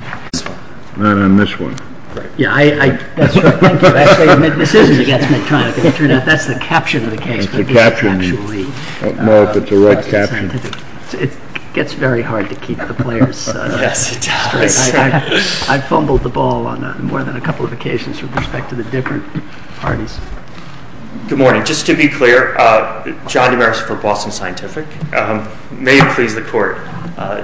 I fumbled the ball on more than a couple of occasions with respect to the different parties. Good morning. Just to be clear, John Demers for Boston Scientific. May it please the court,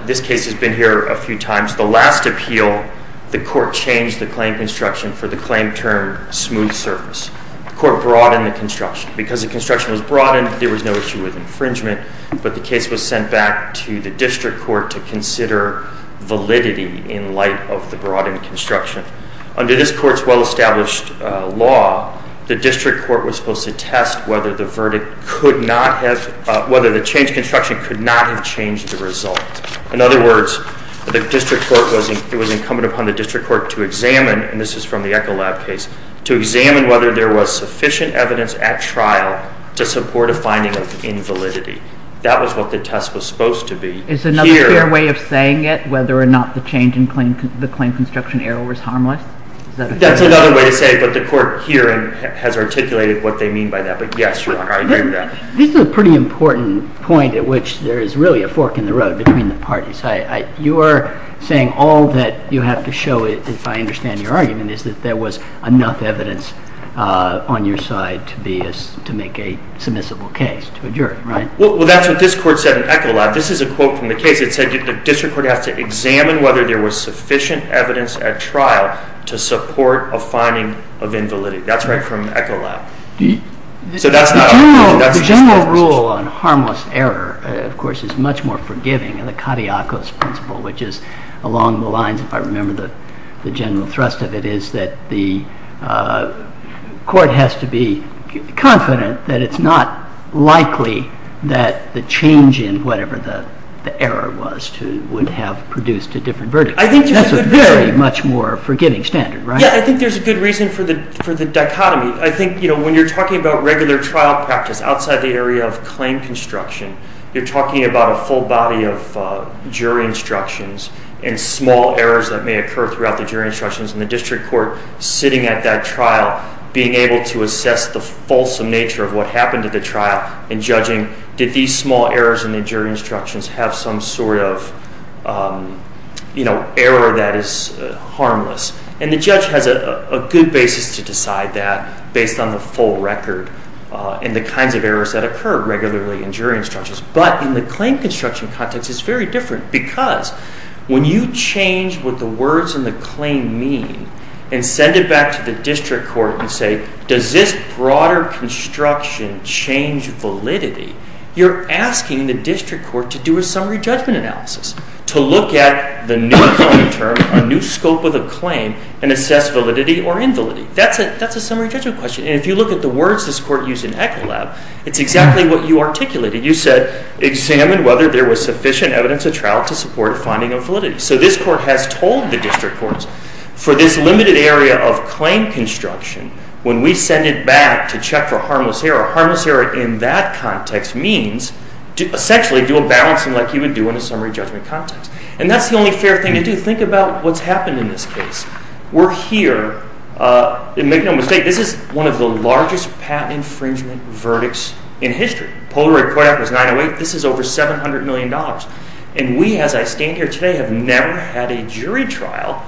this case has been here a few times. The last appeal, the court changed the claim construction for the claim term smooth surface. The court broadened the construction. Because the construction was broadened, there was no issue with infringement. But the case was sent back to the district court to consider validity in light of the broadened construction. Under this court's well-established law, the district court was supposed to test whether the change in construction could not have changed the result. In other words, it was incumbent upon the district court to examine, and this is from the Echolab case, to examine whether there was sufficient evidence at trial to support a finding of invalidity. That was what the test was supposed to be. Is another fair way of saying it, whether or not the change in the claim construction error was harmless? That's another way to say it, but the court here has articulated what they mean by that. This is a pretty important point at which there is really a fork in the road between the parties. You are saying all that you have to show, if I understand your argument, is that there was enough evidence on your side to make a submissible case. Well, that's what this court said in Echolab. This is a quote from the case that said the district court had to examine whether there was sufficient evidence at trial to support a finding of invalidity. That's right from Echolab. The general rule on harmless error, of course, is much more forgiving. The Kadiakos principle, which is along the lines, if I remember the general thrust of it, is that the court has to be confident that it's not likely that the change in whatever the error was would have produced a different verdict. That's a very much more forgiving standard, right? Yeah, I think there's a good reason for the dichotomy. I think when you're talking about regular trial practice outside the area of claim construction, you're talking about a whole body of jury instructions and small errors that may occur throughout the jury instructions, and the district court sitting at that trial being able to assess the fulsome nature of what happened at the trial and judging did these small errors in the jury instructions have some sort of error that is harmless. And the judge has a good basis to decide that based on the full record and the kinds of errors that occur regularly in jury instructions. But in the claim construction context, it's very different, because when you change what the words in the claim mean and send it back to the district court and say, does this broader construction change validity, you're asking the district court to do a summary judgment analysis, to look at the new claim term, a new scope of the claim, and assess validity or invalidity. That's a summary judgment question. And if you look at the words this court used in ECLAB, it's exactly what you articulated. You said, examine whether there was sufficient evidence at trial to support finding of validity. So this court has told the district courts, for this limited area of claim construction, when we send it back to check for harmless error, harmless error in that context means, essentially do a balance like you would do in a summary judgment context. And that's the only fair thing to do. Think about what's happened in this case. We're here, and make no mistake, this is one of the largest patent infringement verdicts in history. Polaroid credit was 908. This is over $700 million. And we, as I stand here today, have never had a jury trial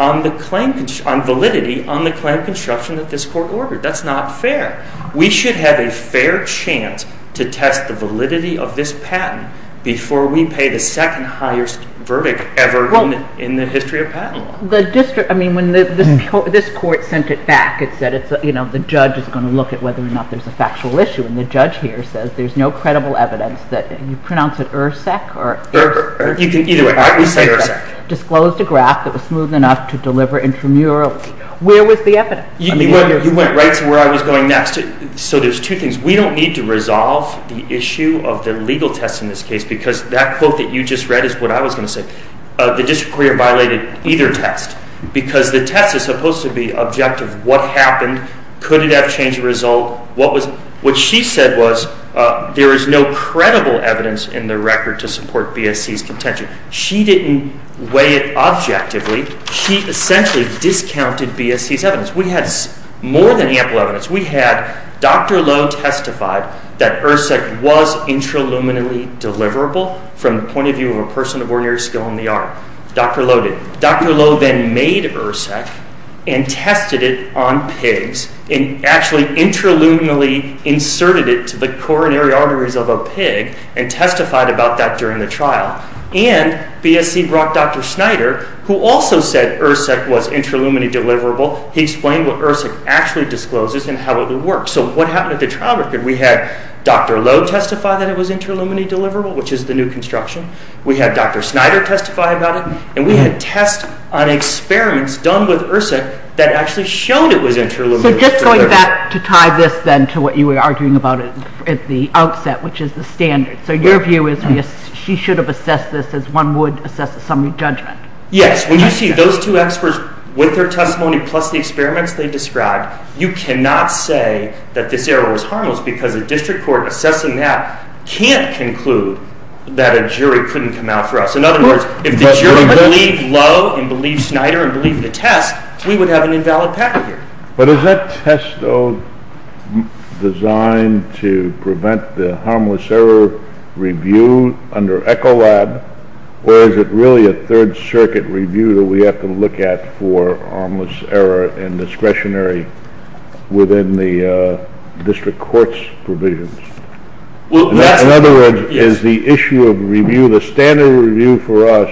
on validity on the kind of construction that this court ordered. That's not fair. We should have a fair chance to test the validity of this patent before we pay the second-highest verdict ever in the history of patents. The district, I mean, when this court sent it back, it said, you know, the judge is going to look at whether or not there's a factual issue. And the judge here says there's no credible evidence that, and you pronounce it IRSEC, or? You can either say IRSEC. Disclosed a graph that was smooth enough to deliver intramurally. Where was the evidence? You went right to where I was going next. So there's two things. We don't need to resolve the issue of the legal test in this case because that quote that you just read is what I was going to say. The district court violated either test because the test is supposed to be objective. What happened? Could it have changed the result? What she said was there is no credible evidence in the record to support BSC's contention. She essentially discounted BSC's evidence. We have more than ample evidence. We have Dr. Lowe testified that IRSEC was intraluminally deliverable from the point of view of a person of ordinary skill in the art. Dr. Lowe did. Dr. Lowe then made IRSEC and tested it on pigs and actually intraluminally inserted it to the coronary arteries of a pig and testified about that during the trial. And BSC brought Dr. Schneider, who also said IRSEC was intraluminally deliverable. He explained what IRSEC actually discloses and how it would work. So what happened at the trial? Did we have Dr. Lowe testify that it was intraluminally deliverable, which is the new construction? We had Dr. Schneider testify about it. And we had tests on experiments done with IRSEC that actually showed it was intraluminally deliverable. So just going back to tie this then to what you were arguing about at the outset, which is the standard. So your view is she should have assessed this as one would assess assembly judgment. Yes. When you see those two experts with their testimony plus the experiments they described, you cannot say that this error was harmless because a district court assessing that can't conclude that a jury couldn't come out for us. In other words, if the jury believed Lowe and believed Schneider and believed the test, we would have an invalid package here. But is that test, though, designed to prevent the harmless error review under ECHOLAB, or is it really a Third Circuit review that we have to look at for harmless error and discretionary within the district court's provisions? In other words, is the issue of review, the standard review for us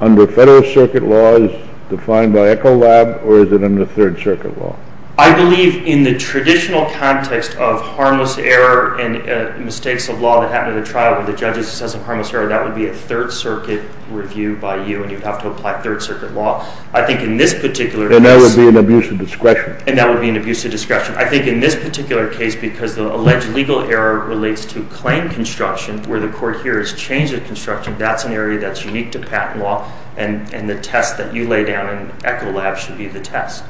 under Federal Circuit law is defined by ECHOLAB, or is it under Third Circuit law? I believe in the traditional context of harmless error and mistakes of law that happen at a trial, when the judge says a harmless error, that would be a Third Circuit review by you, and you'd have to apply Third Circuit law. And that would be an abuse of discretion. And that would be an abuse of discretion. I think in this particular case, because the alleged legal error relates to claim construction, where the court here has changed the construction, that's an area that's unique to patent law, and the test that you lay down in ECHOLAB should be the test.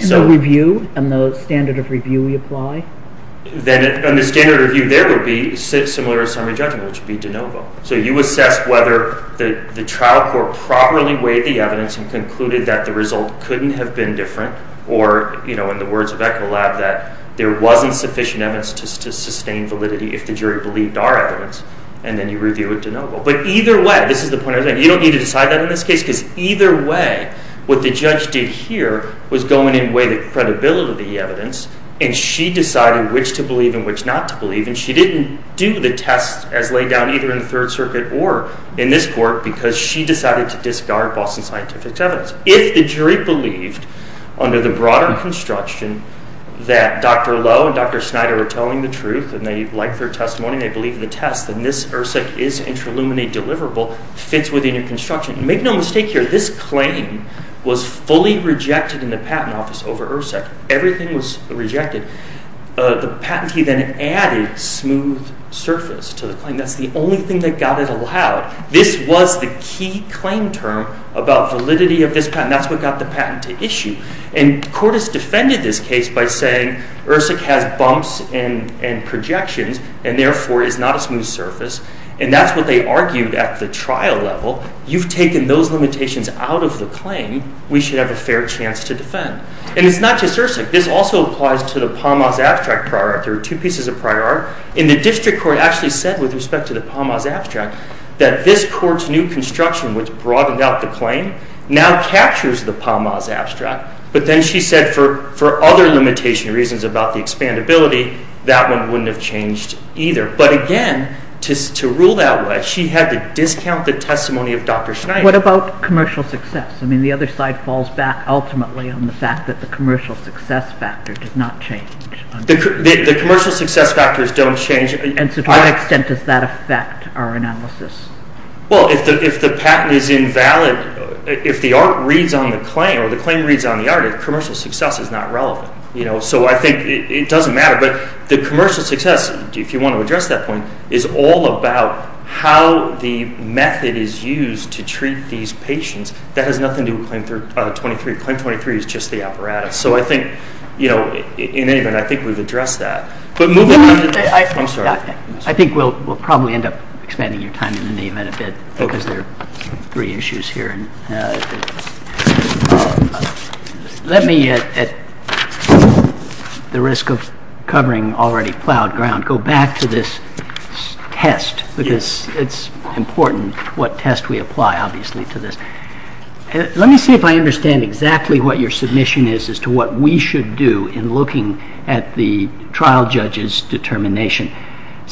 And the review, and the standard of review we apply? And the standard review there would be similar to standard judgment, which would be de novo. So you would test whether the trial court properly weighed the evidence and concluded that the result couldn't have been different, or in the words of ECHOLAB, that there wasn't sufficient evidence to sustain validity if the jury believed our evidence, and then you review it de novo. But either way, this is the point I was making, you don't need to decide that in this case, because either way, what the judge did here was go in and weigh the credibility of the evidence, and she decided which to believe and which not to believe, and she didn't do the test as laid down either in the Third Circuit or in this court, because she decided to discard Boston Scientific's evidence. If the jury believed, under the broader construction, that Dr. Lowe and Dr. Snyder were telling the truth, and they liked their testimony and they believed in the test, then this ERSEC is interluminary deliverable, fits within the construction. Make no mistake here, this claim was fully rejected in the patent office over ERSEC. Everything was rejected. The patentee then added smooth surface to the claim. That's the only thing that got it allowed. This was the key claim term about validity of this patent. That's what got the patent to issue. And the court has defended this case by saying ERSEC has bumps and projections, and therefore is not a smooth surface, and that's what they argued at the trial level. You've taken those limitations out of the claim. We should have a fair chance to defend. And it's not just ERSEC. This also applies to the Palmaz Abstract Prior Art. There are two pieces of Prior Art, and the district court actually said with respect to the Palmaz Abstract that this court's new construction was broadened out the claim, now captures the Palmaz Abstract, but then she said for other limitation reasons about the expandability, that one wouldn't have changed either. But again, to rule that way, she had to discount the testimony of Dr. Snyder. What about commercial success? I mean, the other side falls back ultimately on the fact that the commercial success factor did not change. The commercial success factors don't change. And to what extent does that affect our analysis? Well, if the patent is invalid, if the art reads on the claim, or the claim reads on the art, the commercial success is not relevant. So I think it doesn't matter. But the commercial success, if you want to address that point, is all about how the method is used to treat these patients. That has nothing to do with Claim 23. Claim 23 is just the apparatus. So I think, you know, in any event, I think we've addressed that. I think we'll probably end up expanding your time in the event of it, because there are three issues here. Let me, at the risk of covering already plowed ground, go back to this test, because it's important what test we apply, obviously, to this. Let me see if I understand exactly what your submission is as to what we should do in looking at the trial judge's determination.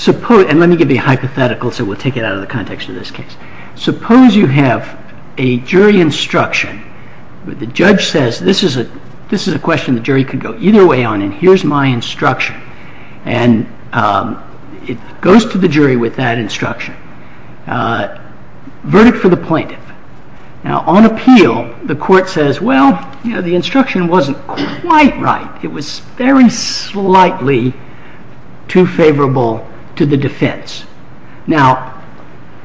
And let me give you a hypothetical, so we'll take it out of the context of this case. Suppose you have a jury instruction. The judge says, this is a question the jury can go either way on, and here's my instruction. And it goes to the jury with that instruction. Verdict for the plaintiff. Now, on appeal, the court says, well, you know, the instruction wasn't quite right. It was very slightly too favorable to the defense. Now,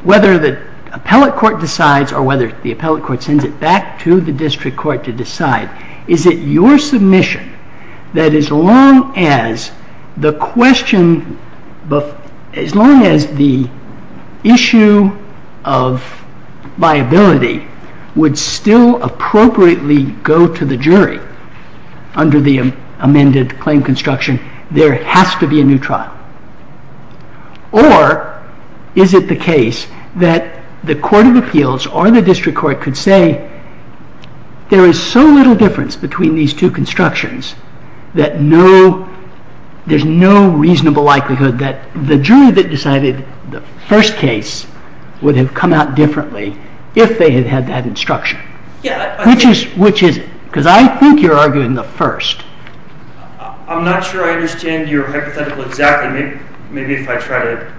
whether the appellate court decides, or whether the appellate court sends it back to the district court to decide, is it your submission that as long as the question, as long as the issue of viability would still appropriately go to the jury under the amended claim construction, there has to be a new trial? Or is it the case that the court of appeals or the district court could say, there is so little difference between these two constructions that there's no reasonable likelihood that the jury that decided the first case would have come out differently if they had had that instruction? Which is it? Because I think you're arguing the first. I'm not sure I understand your hypothetical exactly. Maybe if I try to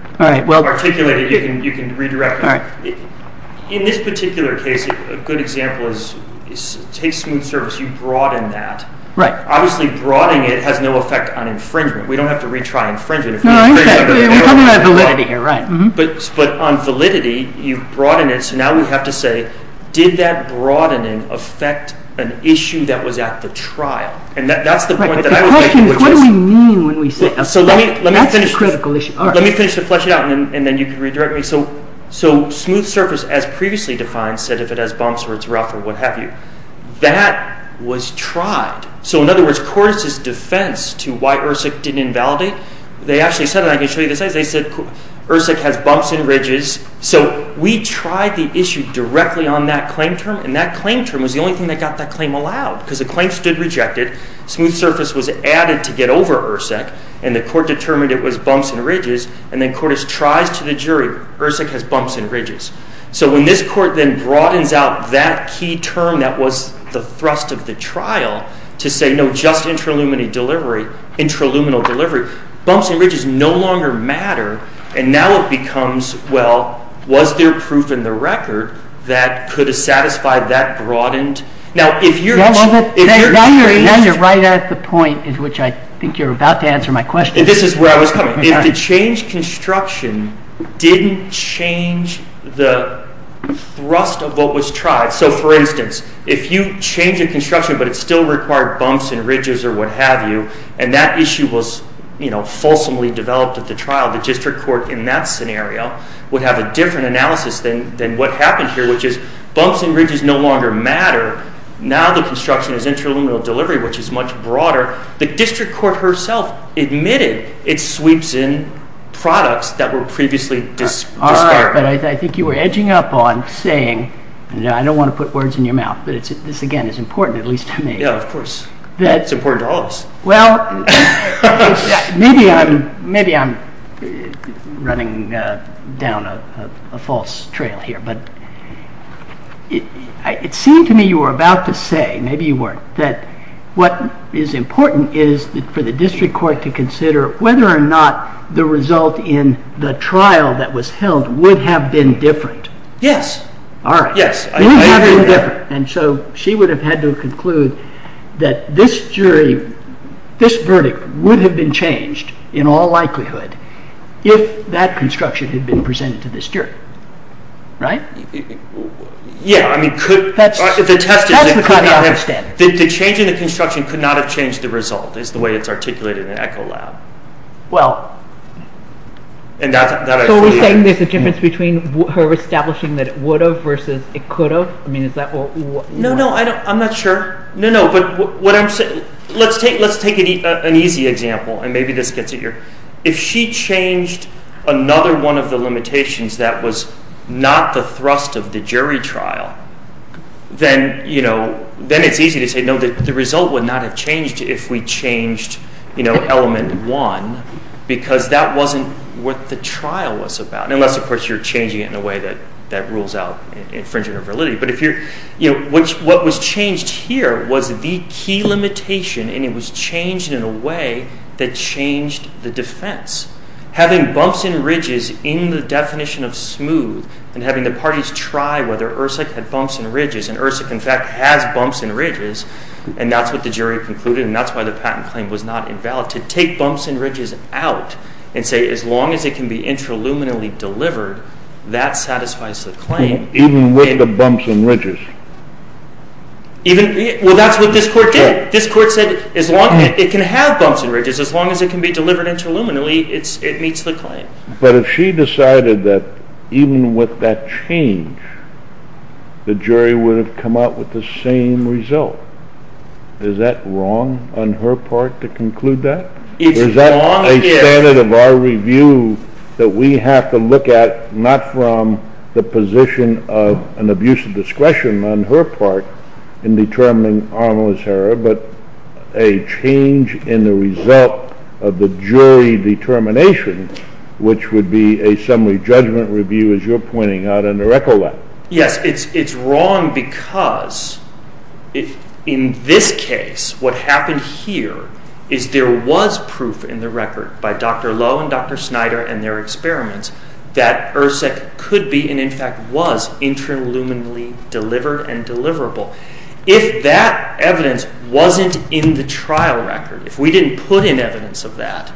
articulate it, you can redirect me. In this particular case, a good example is case smooth service. You broaden that. Obviously broadening it has no effect on infringement. We don't have to retry infringement. But on validity, you broaden it, so now we have to say, did that broadening affect an issue that was at the trial? And that's the point that I was making. The question is, what do we mean when we say that? That's a critical issue. Let me finish to flesh it out, and then you can redirect me. So smooth service, as previously defined, said if it has bumps or it's rough or what have you. That was tried. So in other words, Cordes' defense to why ERSIC didn't invalidate, they actually said it, and I can show you this. They said ERSIC has bumps and ridges. So we tried the issue directly on that claim term, and that claim term was the only thing that got that claim allowed because the claim stood rejected. Smooth service was added to get over ERSIC, and the court determined it was bumps and ridges. And then Cordes tried to the jury, ERSIC has bumps and ridges. So when this court then broadens out that key term that was the thrust of the trial to say no, just intraluminal delivery, bumps and ridges no longer matter, and now it becomes, well, was there proof in the record that could have satisfied that broadened? Now you're right at the point at which I think you're about to answer my question. If the changed construction didn't change the thrust of what was tried, so for instance, if you change a construction but it still required bumps and ridges or what have you, and that issue was, you know, fulsomely developed at the trial, the district court in that scenario would have a different analysis than what happens here, which is bumps and ridges no longer matter. Now the construction is intraluminal delivery, which is much broader. The district court herself admitted it sweeps in products that were previously disqualified. All right, but I think you were edging up on saying, and I don't want to put words in your mouth, but this again is important at least to me. Yeah, of course. It's important to all of us. Well, maybe I'm running down a false trail here, but it seemed to me you were about to say, maybe you weren't, that what is important is for the district court to consider whether or not the result in the trial that was held would have been different. Yes. All right. Yes. And so she would have had to conclude that this jury, this verdict would have been changed in all likelihood if that construction had been presented to this jury. Right? Yeah. That's what I don't understand. The change in the construction could not have changed the result, is the way it's articulated in ECHOLab. Well, so you're saying there's a difference between her establishing that it would have versus it could have? I mean, is that what you're saying? No, no, I'm not sure. No, no, but what I'm saying, let's take an easy example, and maybe this gets it here. If she changed another one of the limitations that was not the thrust of the jury trial, then it's easy to say, no, the result would not have changed if we changed element one, because that wasn't what the trial was about. Unless, of course, you're changing it in a way that rules out infringement of validity. But what was changed here was the key limitation, and it was changed in a way that changed the defense. Having bumps and ridges in the definition of smooth, and having the parties try whether IHRSA had bumps and ridges, and IHRSA, in fact, has bumps and ridges, and that's what the jury concluded, and that's why the patent claim was not invalid. To take bumps and ridges out and say, as long as it can be intraluminally delivered, that satisfies the claim. Even with the bumps and ridges? Well, that's what this court did. This court said, as long as it can have bumps and ridges, as long as it can be delivered intraluminally, it meets the claim. But if she decided that even with that change, the jury would have come out with the same result, is that wrong on her part to conclude that? Is that a standard of our review that we have to look at, not from the position of an abuse of discretion on her part in determining Arnold's error, but a change in the result of the jury determination, which would be a summary judgment review, as you're pointing out, under ECOLA. Yes, it's wrong because in this case, what happened here is there was proof in the record by Dr. Lowe and Dr. Snyder and their experiments that ERSEC could be, and in fact was, intraluminally delivered and deliverable. If that evidence wasn't in the trial record, if we didn't put in evidence of that,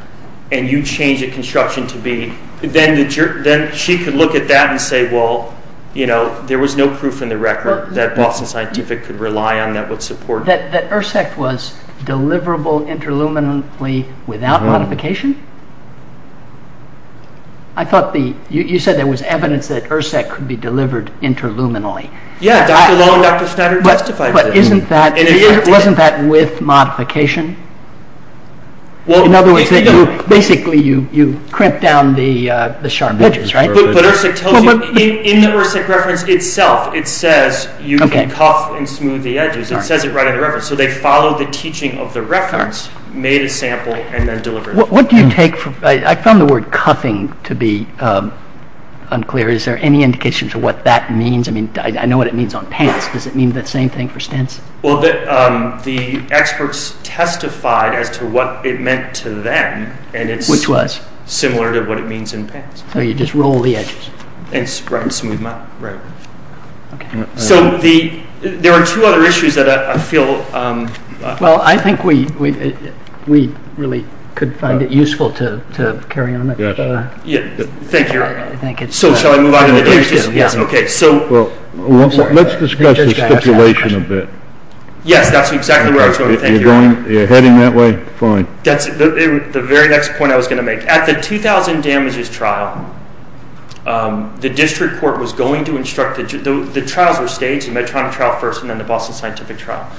and you change the construction to be, then she could look at that and say, well, you know, there was no proof in the record that Boston Scientific could rely on that would support. That ERSEC was deliverable intraluminally without modification? I thought you said there was evidence that ERSEC could be delivered intraluminally. Yes, along with Dr. Snyder's testifier system. But wasn't that with modification? In other words, basically you crimped down the sharp edges, right? But ERSEC tells you, in the ERSEC reference itself, it says you can cuff and smooth the edges. It says it right on the reference. So they followed the teaching of the reference, made a sample, and then delivered it. I found the word cuffing to be unclear. Is there any indication as to what that means? I mean, I know what it means on pants. Does it mean the same thing for stents? Well, the experts testified as to what it meant to them. Which was? Similar to what it means in pants. So you just roll the edges. And grind smooth them out. Right. So there are two other issues that I feel... Well, I think we really could find it useful to carry on. Yes. Thank you. So let's discuss the stipulation a bit. Yes, that's exactly what I was going to say. You're heading that way? Fine. The very next point I was going to make. At the 2000 damages trial, the district court was going to instruct... The trials were staged. The Medtronic trial first, and then the Boston Scientific trial.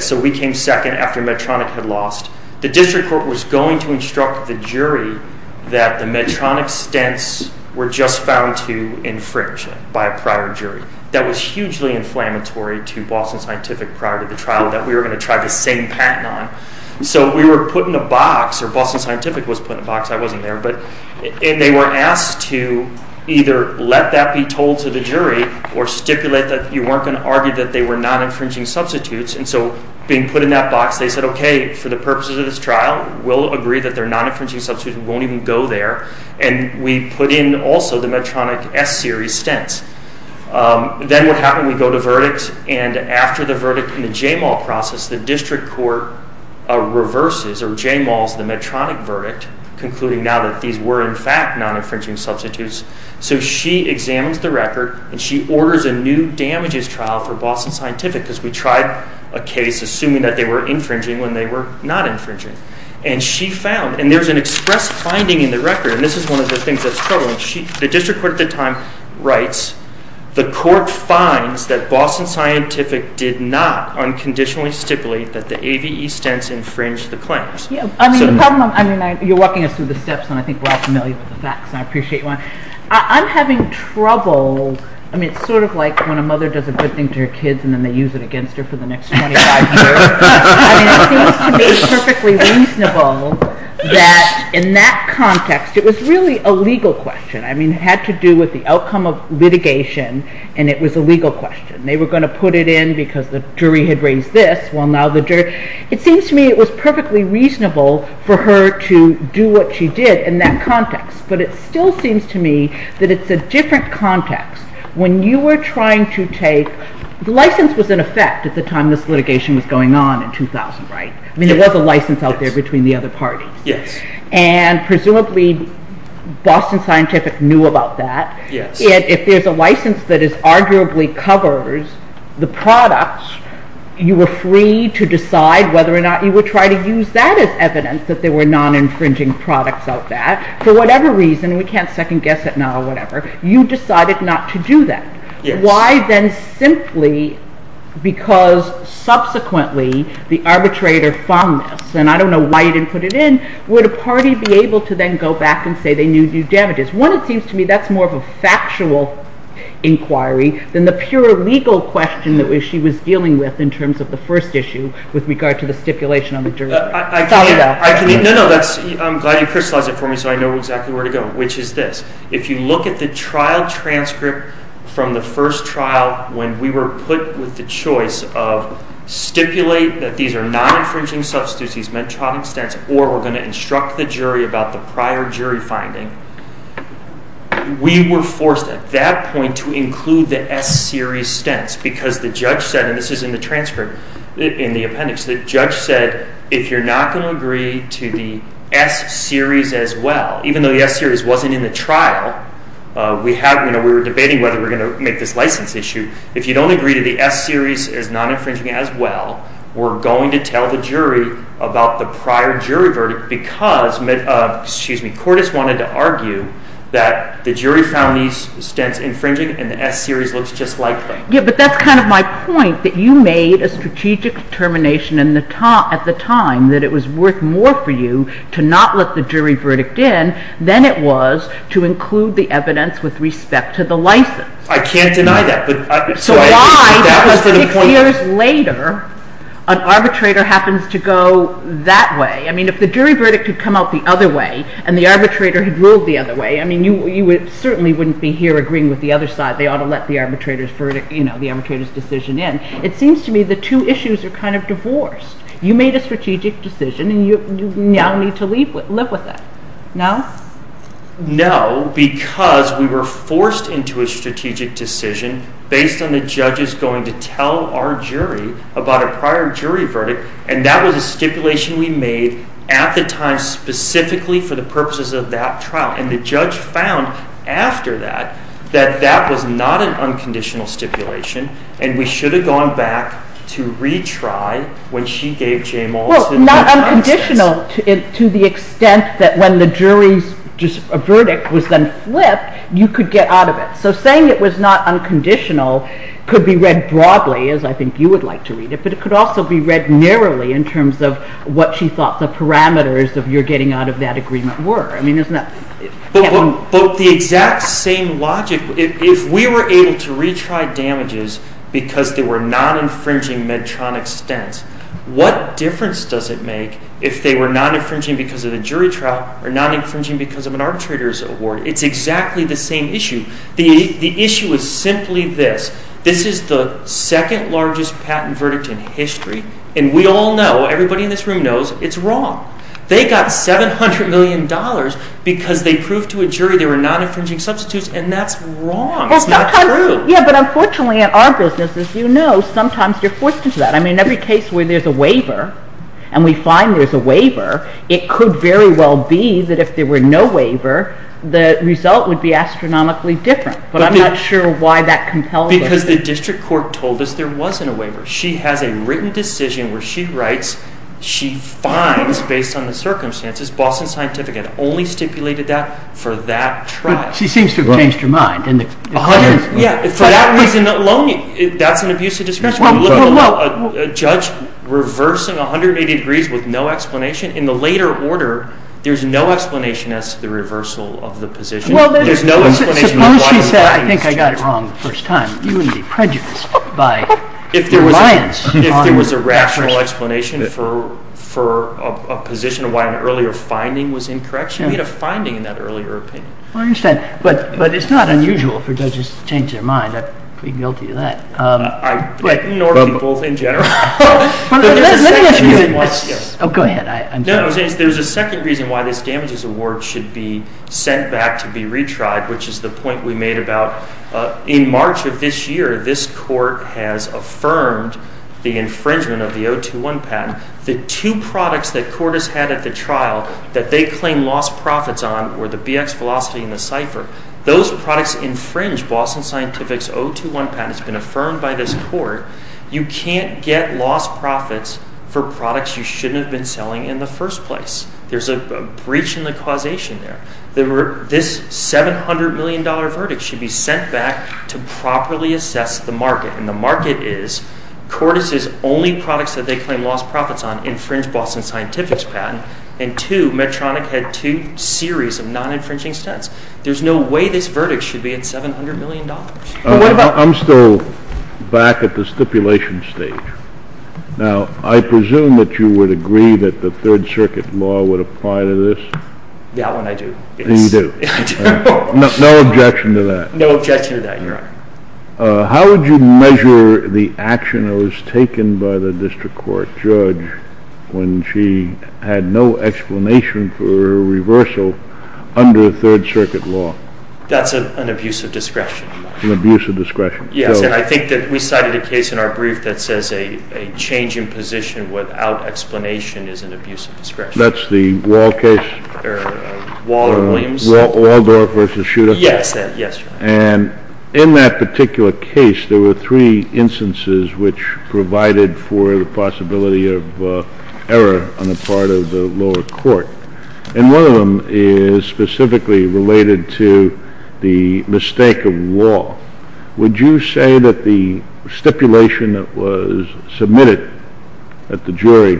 So we came second after Medtronic had lost. The district court was going to instruct the jury that the Medtronic stents were just found to infringe by a prior jury. That was hugely inflammatory to Boston Scientific prior to the trial that we were going to try the same patent on. So we were put in a box, or Boston Scientific was put in a box. I wasn't there. And they were asked to either let that be told to the jury or stipulate that you weren't going to argue that they were not infringing substitutes. And so being put in that box, they said, okay, for the purposes of this trial, we'll agree that they're not infringing substitutes and won't even go there. And we put in also the Medtronic S-series stents. Then what happened? We go to verdicts. And after the verdict in the J-MAL process, the district court reverses or J-MALs the Medtronic verdict, concluding now that these were in fact non-infringing substitutes. So she examines the record, and she orders a new damages trial for Boston Scientific, because we tried a case assuming that they were infringing when they were not infringing. And she found, and there's an express finding in the record, and this is one of the things that's troubling. The district court at the time writes, the court finds that Boston Scientific did not unconditionally stipulate that the ABE stents infringed the claims. I mean, the problem I'm having, you're walking us through the steps, and I think we're all familiar with the facts, and I appreciate that. I'm having trouble. I mean, it's sort of like when a mother does a good thing to her kids and then they use it against her for the next 25 years. I mean, it seems to me perfectly reasonable that in that context, it was really a legal question. I mean, it had to do with the outcome of litigation, and it was a legal question. They were going to put it in because the jury had raised this, well, now the jury. It seems to me it was perfectly reasonable for her to do what she did in that context. But it still seems to me that it's a different context. When you were trying to take the license was in effect at the time this litigation was going on in 2000, right? I mean, there was a license out there between the other parties. Yes. And presumably Boston Scientific knew about that. Yes. If there's a license that arguably covers the products, you were free to decide whether or not you would try to use that as evidence that there were non-infringing products out there. For whatever reason, and we can't second guess it now or whatever, you decided not to do that. Why then simply because subsequently the arbitrator found this, and I don't know why you didn't put it in, would a party be able to then go back and say they knew these damages? One, it seems to me that's more of a factual inquiry than the pure legal question that she was dealing with in terms of the first issue with regard to the stipulation on the jury. No, no. I'm glad you crystallized it for me so I know exactly where to go, which is this. If you look at the trial transcript from the first trial when we were put with the choice of stipulate that these are non-infringing substances, these mental health stents, or we're going to instruct the jury about the prior jury finding, we were forced at that point to include the S-series stents because the judge said, and this is in the transcript in the appendix, the judge said if you're not going to agree to the S-series as well, even though the S-series wasn't in the trial, we were debating whether we were going to make this license issue, if you don't agree to the S-series as non-infringing as well, we're going to tell the jury about the prior jury verdict because Cordes wanted to argue that the jury found these stents infringing and the S-series looks just like them. Yeah, but that's kind of my point, that you made a strategic determination at the time that it was worth more for you to not let the jury verdict in than it was to include the evidence with respect to the license. I can't deny that. So why, six years later, an arbitrator happens to go that way. I mean, if the jury verdict had come out the other way and the arbitrator had ruled the other way, I mean, you certainly wouldn't be here agreeing with the other side. They ought to let the arbitrator's decision in. It seems to me the two issues are kind of divorced. You made a strategic decision and you now need to live with that. No? No, because we were forced into a strategic decision based on the judge's going to tell our jury about a prior jury verdict and that was a stipulation we made at the time specifically for the purposes of that trial. And the judge found, after that, that that was not an unconditional stipulation and we should have gone back to retry when she gave Jay Malson. Well, not unconditional to the extent that when the jury's verdict was then flipped, you could get out of it. So saying it was not unconditional could be read broadly, as I think you would like to read it, but it could also be read narrowly in terms of what she thought the parameters of your getting out of that agreement were. But the exact same logic, if we were able to retry damages because they were not infringing Medtronic stents, what difference does it make if they were not infringing because of the jury trial or not infringing because of an arbitrator's award? It's exactly the same issue. The issue is simply this. This is the second largest patent verdict in history and we all know, everybody in this room knows, it's wrong. They got $700 million because they proved to a jury they were not infringing substitutes and that's wrong. That's not true. Yeah, but unfortunately in our business, as you know, sometimes you're forced into that. I mean, every case where there's a waiver and we find there's a waiver, it could very well be that if there were no waiver, the result would be astronomically different. But I'm not sure why that compels us. Because the district court told us there wasn't a waiver. She has a written decision where she writes, she finds, based on the circumstances, Boston Scientific had only stipulated that for that trial. But she seems to have changed her mind. Yeah, for that reason alone, that can abuse a district court. No, no, no. A judge reversing 180 degrees with no explanation? In the later order, there's no explanation as to the reversal of the position. There's no explanation. Suppose she said, I think I got it wrong the first time. You would be prejudiced by your alliance. There was a rational explanation for a position why an earlier finding was incorrect. She made a finding in that earlier opinion. I understand. But it's not unusual for judges to change their mind. I'm pretty guilty of that. In order to be bold in general. Let me ask you this. Oh, go ahead. There's a second reason why this damages award should be sent back to be retried, which is the point we made about in March of this year, this court has affirmed the infringement of the 021 patent. The two products that court has had at the trial that they claim lost profits on were the BX Velocity and the Cypher. Those products infringe Boston Scientific's 021 patent. It's been affirmed by this court. You can't get lost profits for products you shouldn't have been selling in the first place. There's a breach in the causation there. This $700 million verdict should be sent back to properly assess the market. And the market is, court has said only products that they claim lost profits on infringe Boston Scientific's patent. And two, Medtronic had two series of non-infringing sentences. There's no way this verdict should be at $700 million. I'm still back at the stipulation stage. Now, I presume that you would agree that the Third Circuit law would apply to this? Yeah, I do. You do. No objection to that. No objection to that, no. How would you measure the action that was taken by the district court judge when she had no explanation for reversal under the Third Circuit law? That's an abuse of discretion. An abuse of discretion. Yeah, and I think that we cited a case in our brief that says a change in position without explanation is an abuse of discretion. That's the Wall case? Wall or Wings. Wall or Door versus Shooter? Yes. And in that particular case, there were three instances which provided for the possibility of error on the part of the lower court. And one of them is specifically related to the mistake of Wall. Would you say that the stipulation that was submitted at the jury,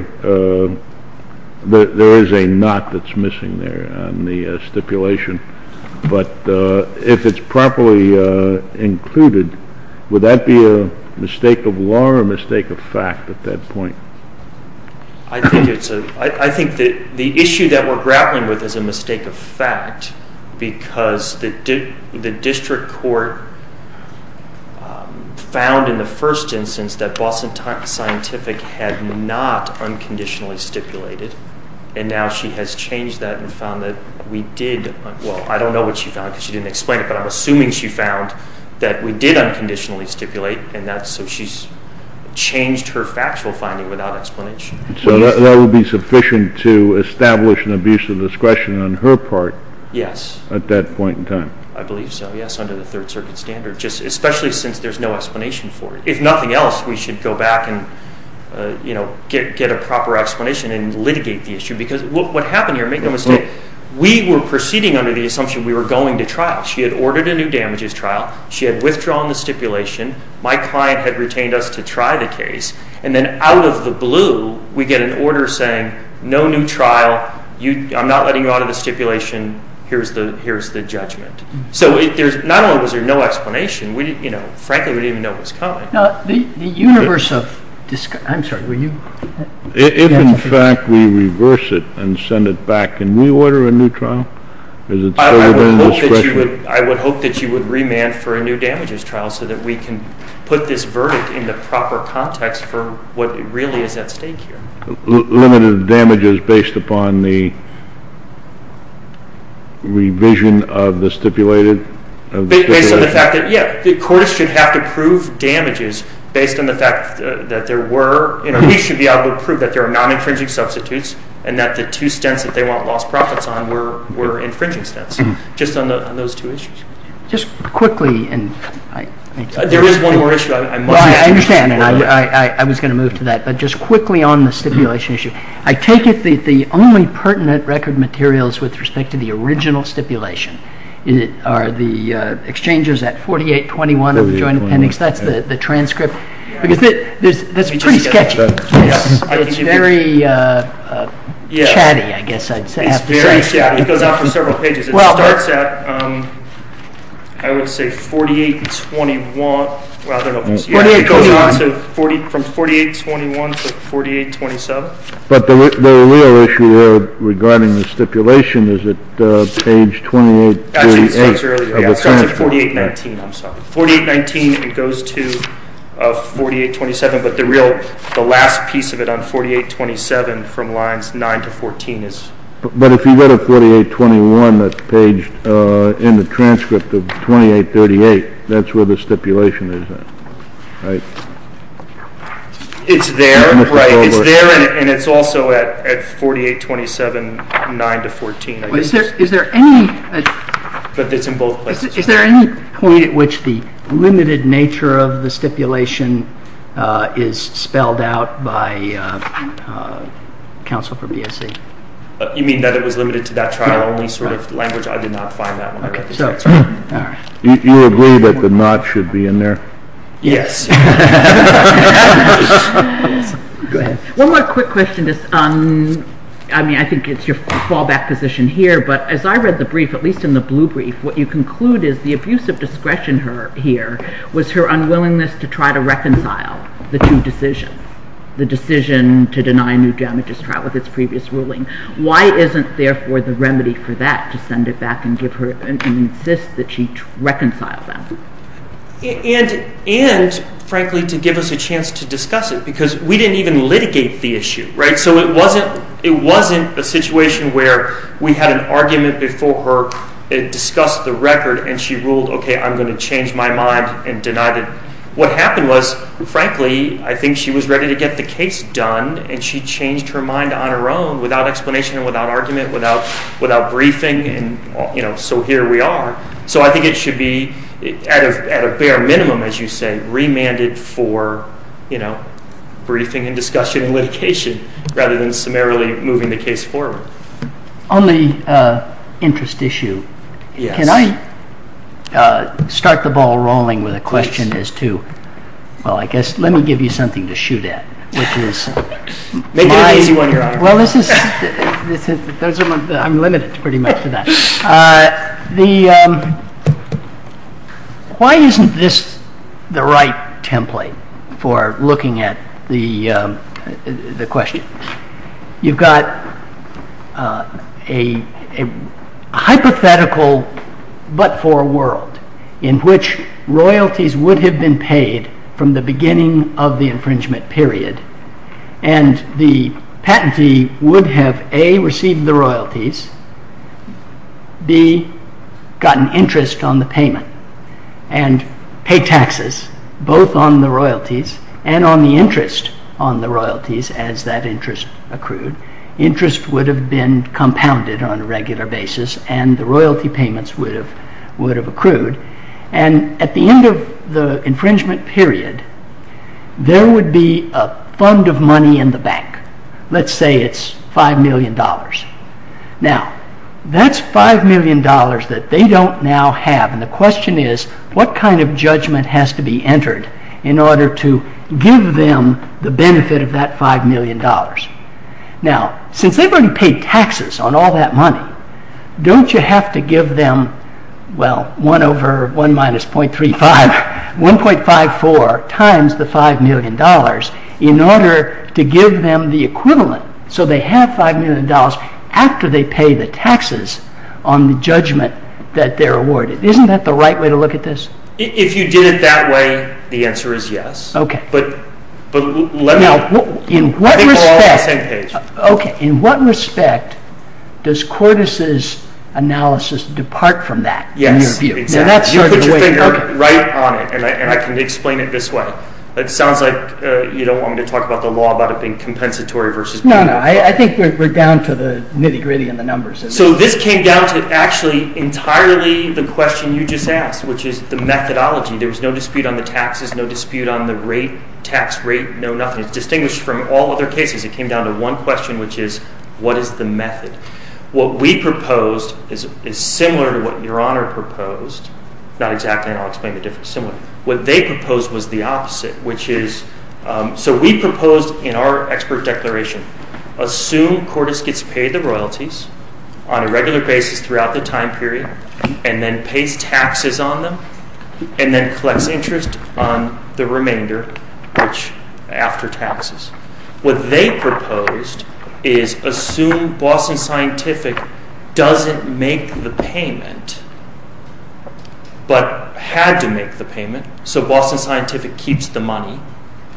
there is a not that's missing there on the stipulation. But if it's properly included, would that be a mistake of Wall or a mistake of fact at that point? I think that the issue that we're grappling with is a mistake of fact because the district court found in the first instance that Boston Scientific had not unconditionally stipulated, and now she has changed that and found that we did. Well, I don't know what she found because she didn't explain it, but I'm assuming she found that we did unconditionally stipulate, and so she's changed her factual finding without explanation. So that would be sufficient to establish an abuse of discretion on her part at that point in time. I believe so, yes, under the Third Circuit standard, especially since there's no explanation for it. If nothing else, we should go back and get a proper explanation and litigate the issue because what happened here, McNamara said, we were proceeding under the assumption we were going to trial. She had ordered a new damages trial. She had withdrawn the stipulation. My client had retained us to try the case. And then out of the blue, we get an order saying no new trial. I'm not letting you out of the stipulation. Here's the judgment. So not only was there no explanation, frankly, we didn't even know what was coming. Now, the universe of this, I'm sorry, were you? If, in fact, we reverse it and send it back, can we order a new trial? I would hope that you would remand for a new damages trial so that we can put this verdict in the proper context for what really is at stake here. Limited damages based upon the revision of the stipulated? Based on the fact that, yes, the courts could have to prove damages based on the fact that there were, you know, we should be able to prove that there are non-infringing substitutes and that the two stents that they want lost profits on were infringing stents, just on those two issues. Just quickly. There is one more issue. I understand. I was going to move to that. But just quickly on the stipulation issue. I take it that the only pertinent record materials with respect to the original stipulation are the exchangers at 4821 of the Joint Appendix. That's the transcript. That's pretty sketchy. It's very chatty, I guess I'd say. It's very chatty. It goes on for several pages. It starts at, I would say, 4821. Well, I don't know. From 4821 to 4827. But the real issue regarding the stipulation is at page 2838. Actually, it starts earlier. 4819, I'm sorry. 4819, it goes to 4827. But the real, the last piece of it on 4827 from lines 9 to 14 is. But if you go to 4821, that's the page in the transcript of 2838. That's where the stipulation is at. Right. It's there. Right. It's there, and it's also at 4827, 9 to 14. Is there any. But it's in both places. Is there any point at which the limited nature of the stipulation is spelled out by counsel for BSE? You mean that it was limited to that trial only sort of language? I did not find that one. You agree that the not should be in there? Yes. Go ahead. One more quick question. I mean, I think it's your fallback position here. But as I read the brief, at least in the blue brief, what you conclude is the abusive discretion here was her unwillingness to try to reconcile the two decisions, the decision to deny a new damages trial with its previous ruling. Why isn't, therefore, the remedy for that to send it back and give her and insist that she reconcile them? And, frankly, to give us a chance to discuss it because we didn't even litigate the issue. It wasn't the situation where we had an argument before it discussed the record and she ruled, okay, I'm going to change my mind and deny it. What happened was, frankly, I think she was ready to get the case done, and she changed her mind on her own without explanation, without argument, without briefing, and so here we are. So I think it should be, at a bare minimum, as you said, remanded for briefing and discussion and litigation rather than summarily moving the case forward. On the interest issue, can I start the ball rolling with a question as to, well, I guess, let me give you something to shoot at. Well, this is, I'm limited pretty much to that. Why isn't this the right template for looking at the question? You've got a hypothetical but for a world in which royalties would have been paid from the beginning of the infringement period, and the patentee would have, A, received the royalties, B, gotten interest on the payment, and pay taxes both on the royalties and on the interest on the royalties as that interest accrued. Interest would have been compounded on a regular basis and the royalty payments would have accrued, and at the end of the infringement period, there would be a fund of money in the bank. Let's say it's $5 million. Now, that's $5 million that they don't now have, and the question is, what kind of judgment has to be entered in order to give them the benefit of that $5 million? Now, since they've already paid taxes on all that money, don't you have to give them, well, 1 over 1 minus .35, 1.54 times the $5 million in order to give them the equivalent, so they have $5 million after they pay the taxes on the judgment that they're awarded. Isn't that the right way to look at this? If you did it that way, the answer is yes. Now, in what respect does Cordes' analysis depart from that, in your view? You're right on it, and I can explain it this way. It sounds like you don't want me to talk about the law about it being compensatory versus not. No, no, I think we're down to the nitty-gritty and the numbers. So this came down to actually entirely the question you just asked, which is the methodology. There was no dispute on the taxes, no dispute on the rate, tax rate, no nothing. It's distinguished from all other cases. It came down to one question, which is, what is the method? What we proposed is similar to what Your Honor proposed. Not exactly, and I'll explain the difference. What they proposed was the opposite, which is, so we proposed in our expert declaration, assume Cordes gets paid the royalties on a regular basis throughout the time period, and then pays taxes on them, and then collects interest on the remainder after taxes. What they proposed is assume Boston Scientific doesn't make the payment, but had to make the payment, so Boston Scientific keeps the money,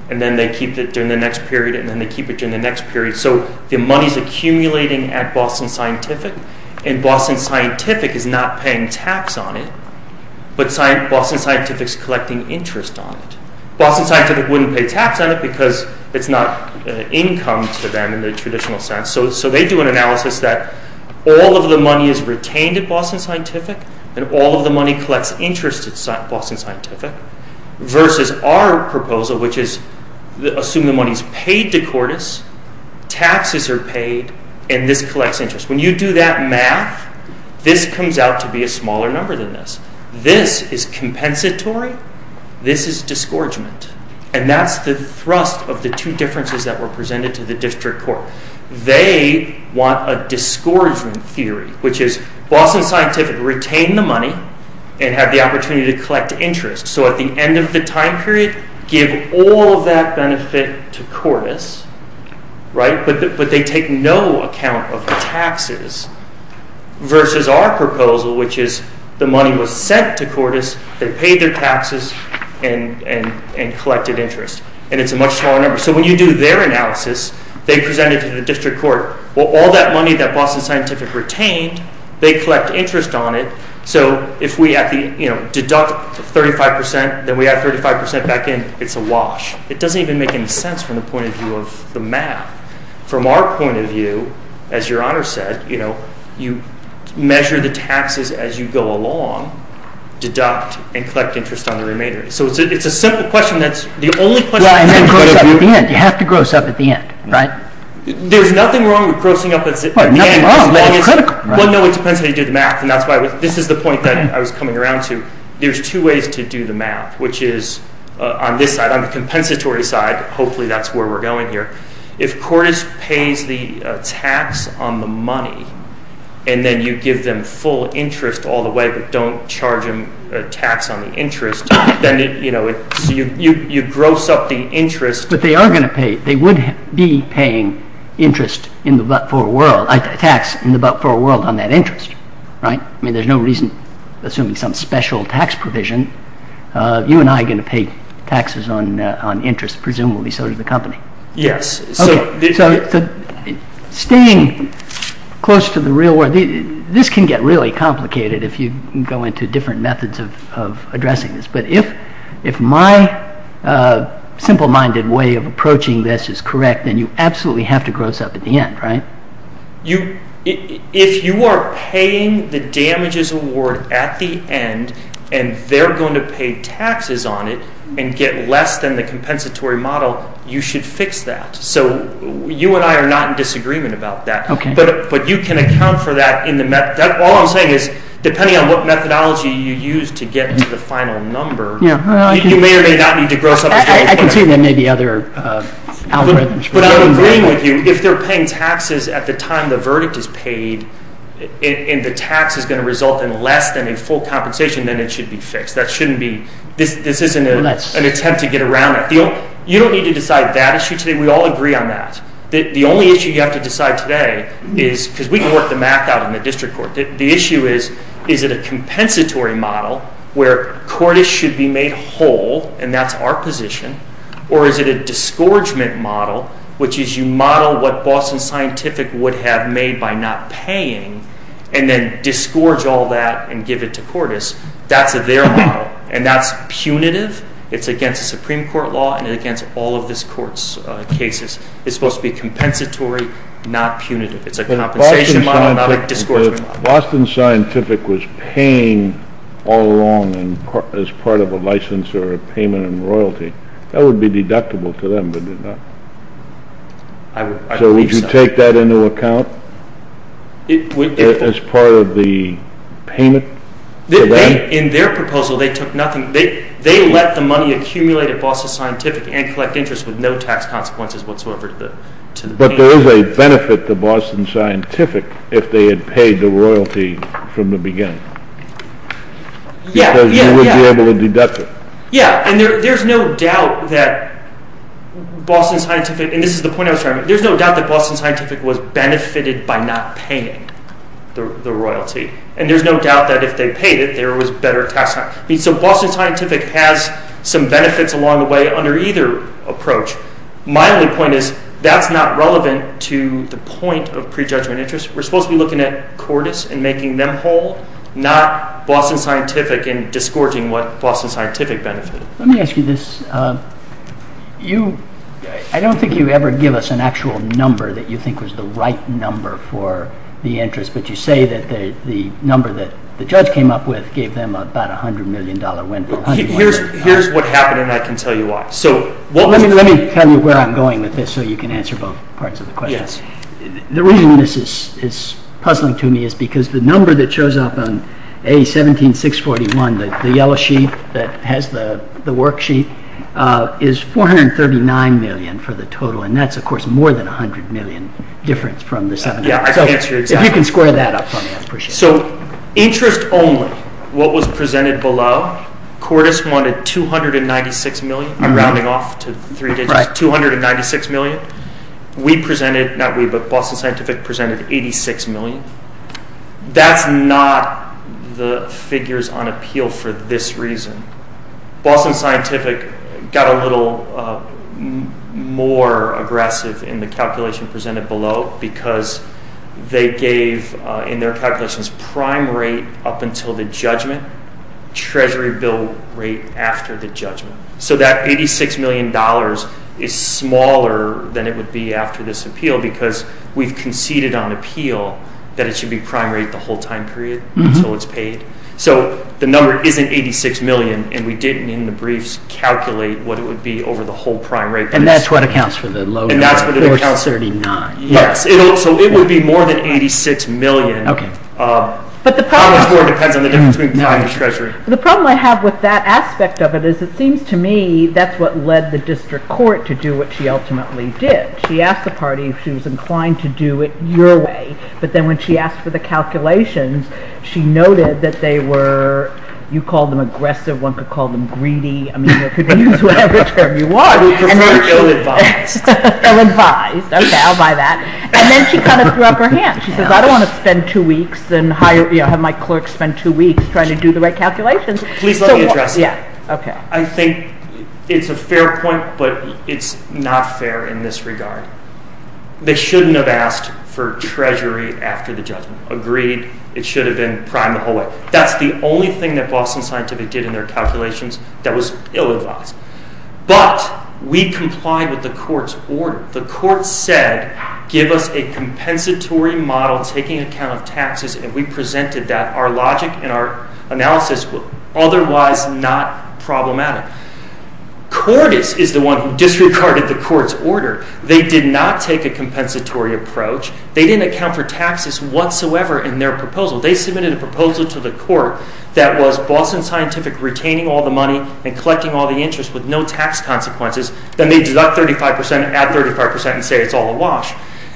and then they keep it during the next period, and then they keep it during the next period, so the money's accumulating at Boston Scientific, and Boston Scientific is not paying tax on it, but Boston Scientific's collecting interest on it. Boston Scientific wouldn't pay tax on it because it's not income to them in the traditional sense. So they do an analysis that all of the money is retained at Boston Scientific, and all of the money collects interest at Boston Scientific, versus our proposal, which is assume the money's paid to Cordes, taxes are paid, and this collects interest. When you do that math, this comes out to be a smaller number than this. This is compensatory, this is disgorgement, and that's the thrust of the two differences that were presented to the district court. They want a disgorgement theory, which is Boston Scientific retain the money and have the opportunity to collect interest. So at the end of the time period, give all that benefit to Cordes, but they take no account of the taxes, versus our proposal, which is the money was sent to Cordes, they paid their taxes, and collected interest. And it's a much smaller number. So when you do their analysis, they present it to the district court. Well, all that money that Boston Scientific retained, they collect interest on it, so if we deduct 35%, then we add 35% back in, it's a wash. It doesn't even make any sense from the point of view of the math. From our point of view, as your Honor said, you measure the taxes as you go along, deduct, and collect interest on the remainder. So it's a simple question that's the only question that's going to... You have to gross up at the end, right? There's nothing wrong with grossing up at the end. Well, no, it's because they did math, and that's why this is the point that I was coming around to. There's two ways to do the math, which is on this side, on the compensatory side, hopefully that's where we're going here. If Cordes pays the tax on the money, and then you give them full interest all the way, but don't charge them a tax on the interest, then, you know, you gross up the interest. But they are going to pay, they would be paying interest in the but-for world, a tax in the but-for world on that interest, right? I mean, there's no reason, assuming some special tax provision, you and I are going to pay taxes on interest, presumably, so is the company. Yes. Staying close to the real world, this can get really complicated if you go into different methods of addressing this, but if my simple-minded way of approaching this is correct, then you absolutely have to gross up at the end, right? If you are paying the damages award at the end, and they're going to pay taxes on it and get less than the compensatory model, you should fix that. So you and I are not in disagreement about that. Okay. But you can account for that in the math. All I'm saying is, depending on what methodology you use to get to the final number, you may or may not need to gross up. I can assume there may be other algorithms. But I'm agreeing with you. If they're paying taxes at the time the verdict is paid, and the tax is going to result in less than a full compensation, then it should be fixed. That shouldn't be – this isn't an attempt to get around that. You don't need to decide that issue today. We all agree on that. The only issue you have to decide today is – the issue is, is it a compensatory model where Cordes should be made whole, and that's our position, or is it a disgorgement model, which is you model what Boston Scientific would have made by not paying and then disgorge all that and give it to Cordes. That's their model, and that's punitive. It's against the Supreme Court law and it's against all of this court's cases. It's supposed to be compensatory, not punitive. It's a compensation model, not a disgorgement model. If Boston Scientific was paying all along as part of a license or a payment in royalty, that would be deductible to them, wouldn't it not? So would you take that into account as part of the payment? In their proposal, they took nothing. They let the money accumulate at Boston Scientific and collect interest with no tax consequences whatsoever. But there is a benefit to Boston Scientific if they had paid the royalty from the beginning. Yes, yes, yes. Because you would be able to deduct it. Yes, and there's no doubt that Boston Scientific – and this is the point I was trying to make – there's no doubt that Boston Scientific was benefited by not paying the royalty, and there's no doubt that if they paid it, there was better tax time. So Boston Scientific has some benefits along the way under either approach. My only point is that's not relevant to the point of prejudgment interest. We're supposed to be looking at courtesy and making them whole, not Boston Scientific and disgorging what Boston Scientific benefits. Let me ask you this. I don't think you ever give us an actual number that you think was the right number for the interest, but you say that the number that the judge came up with gave them about a $100 million win. Here's what happened, and I can tell you why. Let me tell you where I'm going with this so you can answer both parts of the question. Yes. The reason this is puzzling to me is because the number that shows up on A17641, the yellow sheet that has the worksheet, is $439 million for the total, and that's, of course, more than $100 million difference from this other number. If you can square that up for me, I'd appreciate it. So interest only, what was presented below, courtesy won $296 million, rounding off to $296 million. We presented, not we, but Boston Scientific presented $86 million. That's not the figures on appeal for this reason. Boston Scientific got a little more aggressive in the calculation presented below because they gave, in their calculations, prime rate up until the judgment, treasury bill rate after the judgment. So that $86 million is smaller than it would be after this appeal because we've conceded on appeal that it should be prime rate the whole time period until it's paid. So the number isn't $86 million, and we didn't in the briefs calculate what it would be over the whole prime rate period. And that's what accounts for the low rate, $439. Yes, so it would be more than $86 million. Okay. The problem I have with that aspect of it is it seems to me that's what led the district court to do what she ultimately did. She asked the party if she was inclined to do it your way, but then when she asked for the calculations, she noted that they were, you called them aggressive, one could call them greedy, I mean, you could use whatever term you want. We just don't advise. Don't advise. Okay, I'll buy that. And then she kind of threw up her hands. She says, I don't want to spend two weeks and have my court spend two weeks trying to do the right calculations. Please let me address that. Yeah, okay. I think it's a fair point, but it's not fair in this regard. They shouldn't have asked for treasury after the judgment. Agreed it should have been prime the whole way. That's the only thing that Boston Scientific did in their calculations that was ill-advised. But we complied with the court's order. The court said, give us a compensatory model taking account of taxes, and we presented that. Our logic and our analysis were otherwise not problematic. Cordes is the one who disregarded the court's order. They did not take a compensatory approach. They didn't account for taxes whatsoever in their proposal. They submitted a proposal to the court that was Boston Scientific retaining all the money and collecting all the interest with no tax consequences, then they deduct 35 percent, add 35 percent, and say it's all a wash.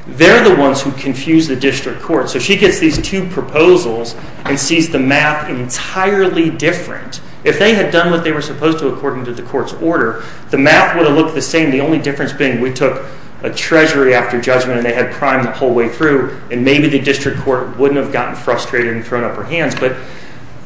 They're the ones who confused the district court. So she gets these two proposals and sees the math entirely different. If they had done what they were supposed to according to the court's order, the math would have looked the same. The only difference being we took a treasury after judgment, and they had prime the whole way through, and maybe the district court wouldn't have gotten frustrated and thrown up our hands. But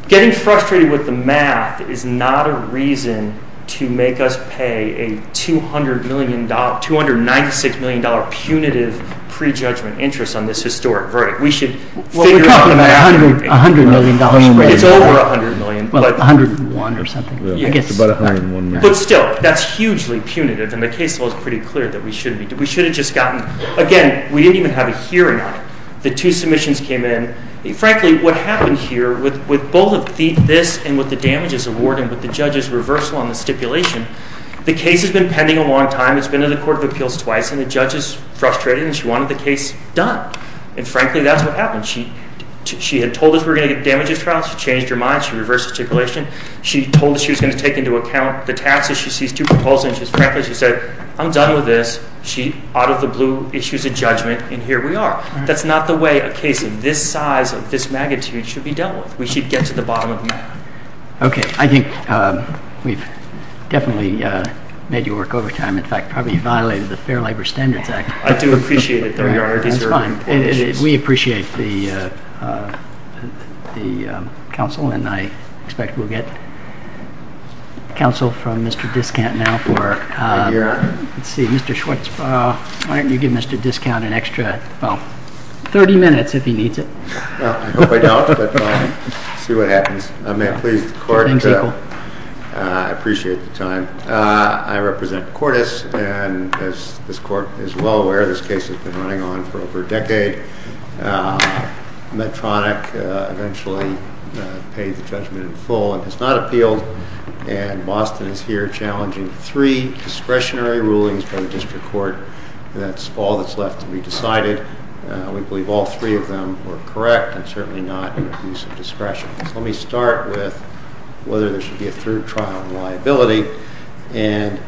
getting frustrated with the math is not a reason to make us pay a $296 million punitive prejudgment interest on this historic verdict. We should figure something out. Well, we're talking about $100 million. It's over $100 million. Well, $101 million or something. You get to about $101 million. But still, that's hugely punitive, and the case law is pretty clear that we should have just gotten, again, we didn't even have a hearing on it. The two submissions came in. And, frankly, what happened here, with both of this and with the damages awarded and with the judge's reversal on the stipulation, the case has been pending a long time. It's been in the court of appeals twice, and the judge is frustrated, and she wanted the case done. And, frankly, that's what happened. She had told us we were going to get damages trials. She changed her mind. She reversed the stipulation. She told us she was going to take into account the taxes. She sees two proposals. And frankly, she said, I'm done with this. She bottled the blue, issues a judgment, and here we are. That's not the way a case of this size or this magnitude should be dealt with. We should get to the bottom of the matter. Okay. I think we've definitely made you work overtime. In fact, probably violated the Fair Labor Standards Act. I do appreciate it, though, Your Honor. That's fine. We appreciate the counsel, and I expect we'll get counsel from Mr. Diskant now for Mr. Schwartz. Why don't you give Mr. Diskant an extra 30 minutes if he needs it. I hope I don't, but we'll see what happens. I appreciate the time. I represent Cordes, and as this court is well aware, this case has been running on for over a decade. Medtronic eventually paid the judgment in full. It's not appealed, and Boston is here challenging three discretionary rulings by district court. That's all that's left to be decided. I would believe all three of them were correct and certainly not in the use of discretion. Let me start with whether there should be a true trial on liability, and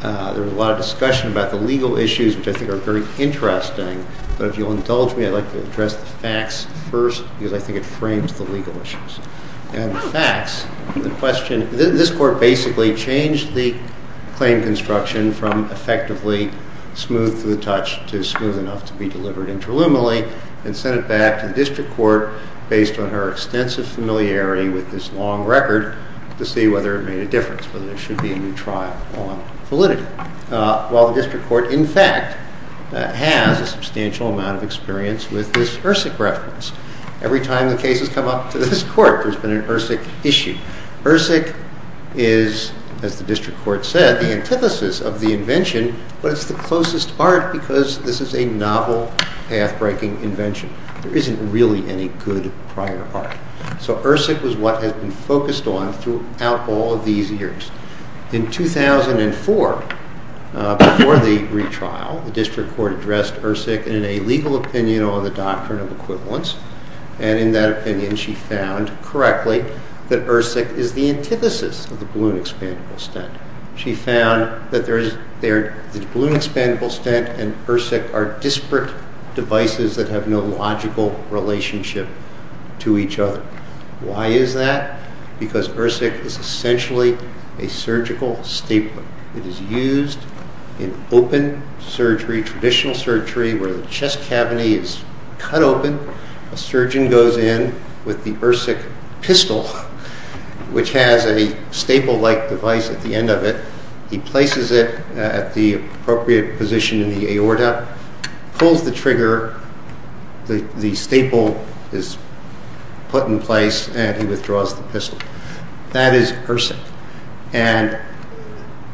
there was a lot of discussion about the legal issues, which I think are very interesting, but if you'll indulge me, I'd like to address the facts first because I think it frames the legal issues. The facts, the question, this court basically changed the claim construction from effectively smooth through touch to smooth enough to be delivered interluminally and sent it back to district court based on her extensive familiarity with this long record to see whether it made a difference, whether there should be a new trial on validity, while the district court, in fact, has a substantial amount of experience with dispersive reference. Every time a case has come up to this court, there's been an ERSIC issue. ERSIC is, as the district court said, the antithesis of the invention, but it's the closest part because this is a novel, path-breaking invention. There isn't really any good prior art. So ERSIC is what has been focused on throughout all of these years. In 2004, before the retrial, the district court addressed ERSIC in a legal opinion on the doctrine of equivalence, and in that opinion, she found correctly that ERSIC is the antithesis of the balloon expandable stent. She found that there is balloon expandable stent and ERSIC are disparate devices that have no logical relationship to each other. Why is that? Because ERSIC is essentially a surgical stapling. It is used in open surgery, traditional surgery, where the chest cavity is cut open. A surgeon goes in with the ERSIC pistol, which has a staple-like device at the end of it. He places it at the appropriate position in the aorta, pulls the trigger, the staple is put in place, and he withdraws the pistol. That is ERSIC. And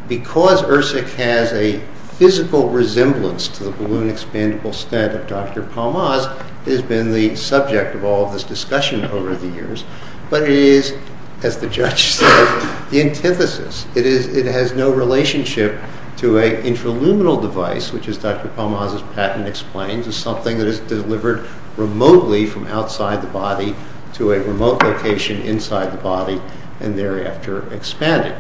because ERSIC has a physical resemblance to the balloon expandable stent of Dr. Palmaz, it has been the subject of all this discussion over the years, but it is, as the judge said, the antithesis. It has no relationship to an intraluminal device, which, as Dr. Palmaz's patent explains, is something that is delivered remotely from outside the body to a remote location inside the body and thereafter expanded.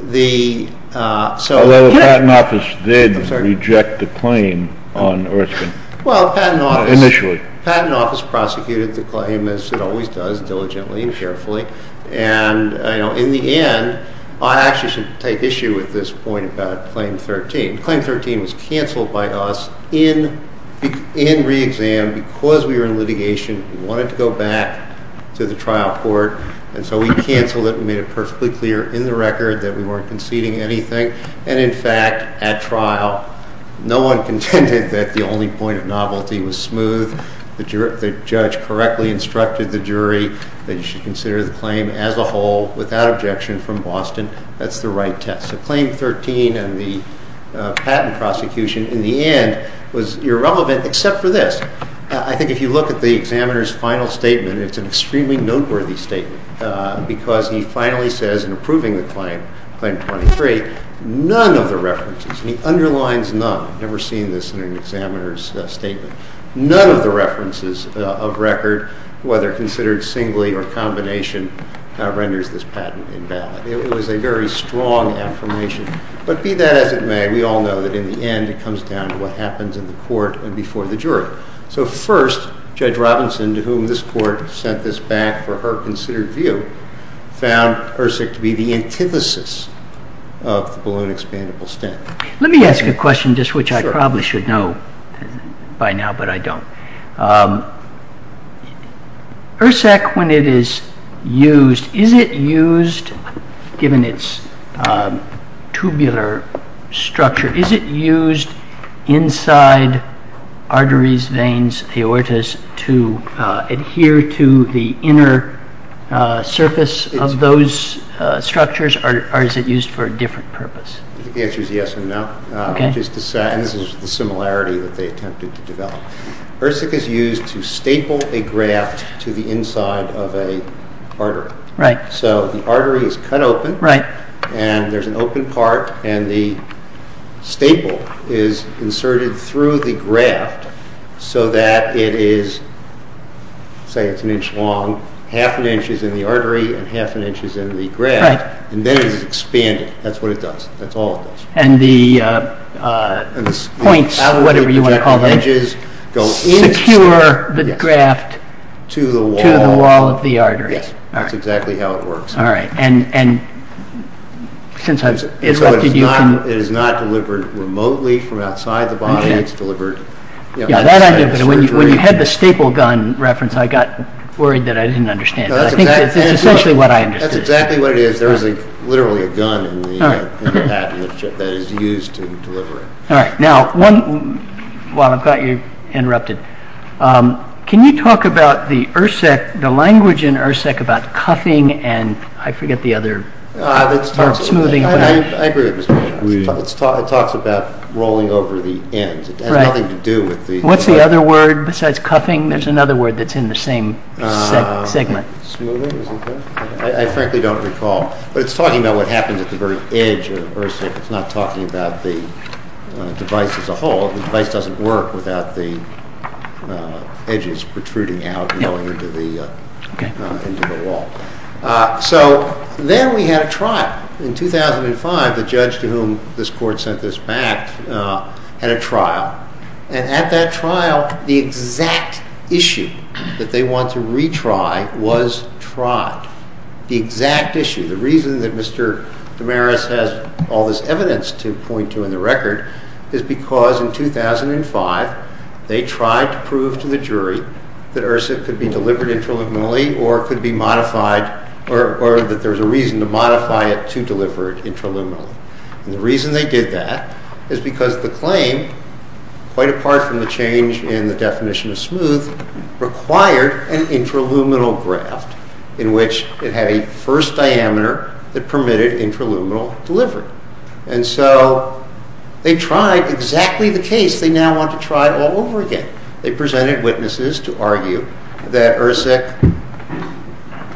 Although the patent office did reject the claim on ERSIC initially. Well, the patent office prosecuted the claim, as it always does, diligently and carefully. And in the end, I actually should take issue at this point about Claim 13. Claim 13 was canceled by us in re-exam because we were in litigation, we wanted to go back to the trial court, and so we canceled it and made it perfectly clear in the record that we weren't conceding anything. And in fact, at trial, no one contended that the only point of novelty was smooth. The judge correctly instructed the jury that you should consider the claim as a whole, without objection, from Boston. That's the right test. So Claim 13 and the patent prosecution, in the end, was irrelevant except for this. I think if you look at the examiner's final statement, it's an extremely noteworthy statement because he finally says in approving the claim, Claim 23, none of the references, and he underlines none, I've never seen this in an examiner's statement, none of the references of record, whether considered singly or combination, renders this patent invalid. It was a very strong affirmation. But be that as it may, we all know that in the end, it comes down to what happens in the court and before the jury. So first, Judge Robinson, to whom this court sent this back for her considered view, found HRSAC to be the antithesis of the balloon expandable stem. Let me ask a question, which I probably should know by now, but I don't. HRSAC, when it is used, is it used, given its tubular structure, is it used inside arteries, veins, aortas, to adhere to the inner surface of those structures, or is it used for a different purpose? The answer is yes and no. Okay. This is the similarity that they attempted to develop. HRSAC is used to staple a graft to the inside of an artery. Right. So the artery is cut open. Right. And there's an open part, and the staple is inserted through the graft so that it is, say, it's an inch long, half an inch is in the artery and half an inch is in the graft. Right. And then it's expanded. That's what it does. That's all it does. And the points, whatever you want to call them, secure the graft to the wall of the artery. Yes. That's exactly how it works. All right. And since I've interrupted you... It is not delivered remotely from outside the body. It's delivered... When you had the staple gun reference, I got worried that I didn't understand. I think that's essentially what I understood. That's exactly what it is. There is literally a gun in the package that is used to deliver it. All right. Now, while I've got you interrupted, can you talk about the language in HRSAC about cuffing and I forget the other smoothing... I agree with the smoothing. It talks about rolling over the end. Right. It has nothing to do with the... What's the other word besides cuffing? There's another word that's in the same segment. I frankly don't recall. But it's talking about what happens at the very edge of the bursa. It's not talking about the device as a whole. The device doesn't work without the edges protruding out and going into the wall. So, there we have trial. In 2005, the judge to whom this court sent this back had a trial. And at that trial, the exact issue that they want to retry was tried. The exact issue. The reason that Mr. Damaris has all this evidence to point to in the record is because in 2005, they tried to prove to the jury that HRSA could be delivered interlibinally or that there's a reason to modify it to deliver it interluminally. And the reason they did that is because the claim, quite apart from the change in the definition of smooth, required an interluminal graft in which it had a first diameter that permitted interluminal delivery. And so, they tried exactly the case. They now want to try all over again. They presented witnesses to argue that HRSA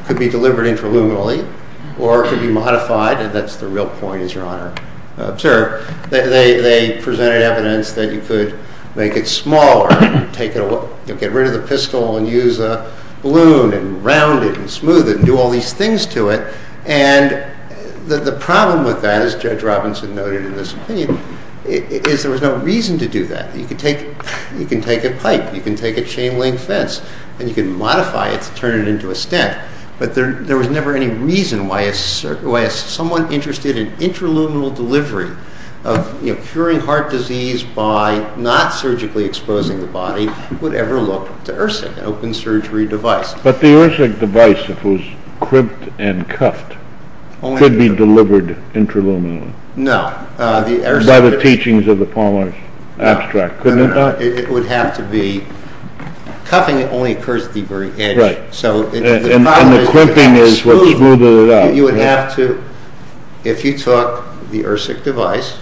could be delivered interluminally or could be modified. And that's the real point, as your Honor observed. They presented evidence that you could make it smaller. You could get rid of the pistol and use a balloon and round it and smooth it and do all these things to it. And the problem with that, as Judge Robinson noted in his claim, is there was no reason to do that. You can take a pipe, you can take a chain-link fence, and you can modify it to turn it into a stent. But there was never any reason why someone interested in interluminal delivery of curing heart disease by not surgically exposing the body would ever look to HRSA, an open surgery device. But the HRSA device, if it was crimped and cuffed, could be delivered interluminally. No. By the teachings of the Paulin's abstract, couldn't it not? It would have to be cuffed, and it only occurs at the very end. Right. And the crimping is what smoothed it out. You would have to, if you took the ERSIC device,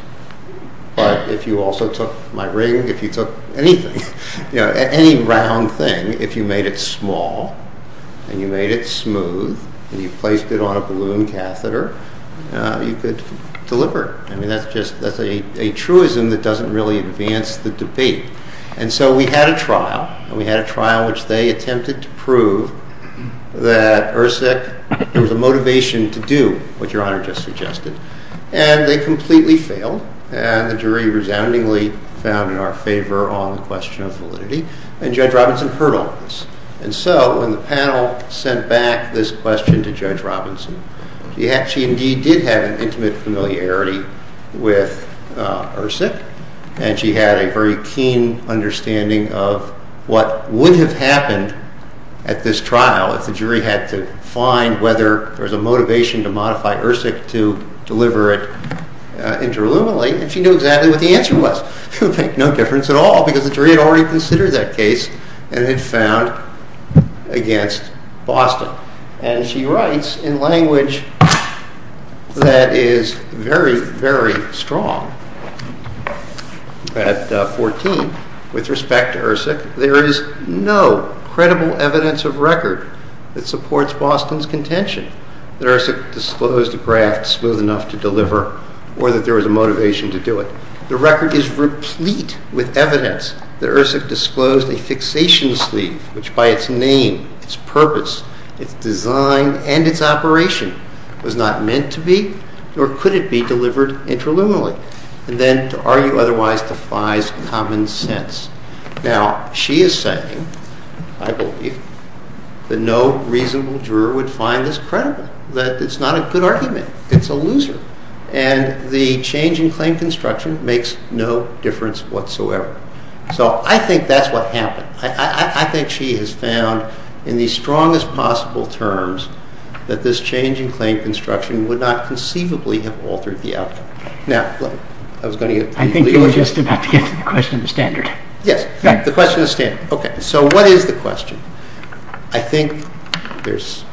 but if you also took my ring, if you took anything, any round thing, if you made it small and you made it smooth and you placed it on a balloon catheter, you could deliver. I mean, that's a truism that doesn't really advance the debate. And so we had a trial, and we had a trial in which they attempted to prove that ERSIC was a motivation to do what Your Honor just suggested. And they completely failed, and the jury resoundingly found in our favor on the question of validity, and Judge Robinson heard all of this. And so when the panel sent back this question to Judge Robinson, she indeed did have an intimate familiarity with ERSIC, and she had a very keen understanding of what would have happened at this trial if the jury had to find whether there was a motivation to modify ERSIC to deliver it interluminally, and she knew exactly what the answer was. It would make no difference at all because the jury had already considered that case and had found against Boston. And she writes in language that is very, very strong, at 14, with respect to ERSIC, there is no credible evidence of record that supports Boston's contention that ERSIC disclosed a bracket smooth enough to deliver or that there was a motivation to do it. The record is replete with evidence that ERSIC disclosed a fixation sleeve which by its name, its purpose, its design, and its operation was not meant to be or could it be delivered interluminally, and then to argue otherwise defies common sense. Now, she is saying, I believe, that no reasonable juror would find this credible, that it's not a good argument, it's a loser, and the change in claim construction makes no difference whatsoever. So I think that's what happened. I think she has found in the strongest possible terms that this change in claim construction would not conceivably have altered the outcome. Now, Blake, I was going to get to you. I think you were just about to get to the question of the standard. Yes, the question of the standard. Okay, so what is the question? I think there's,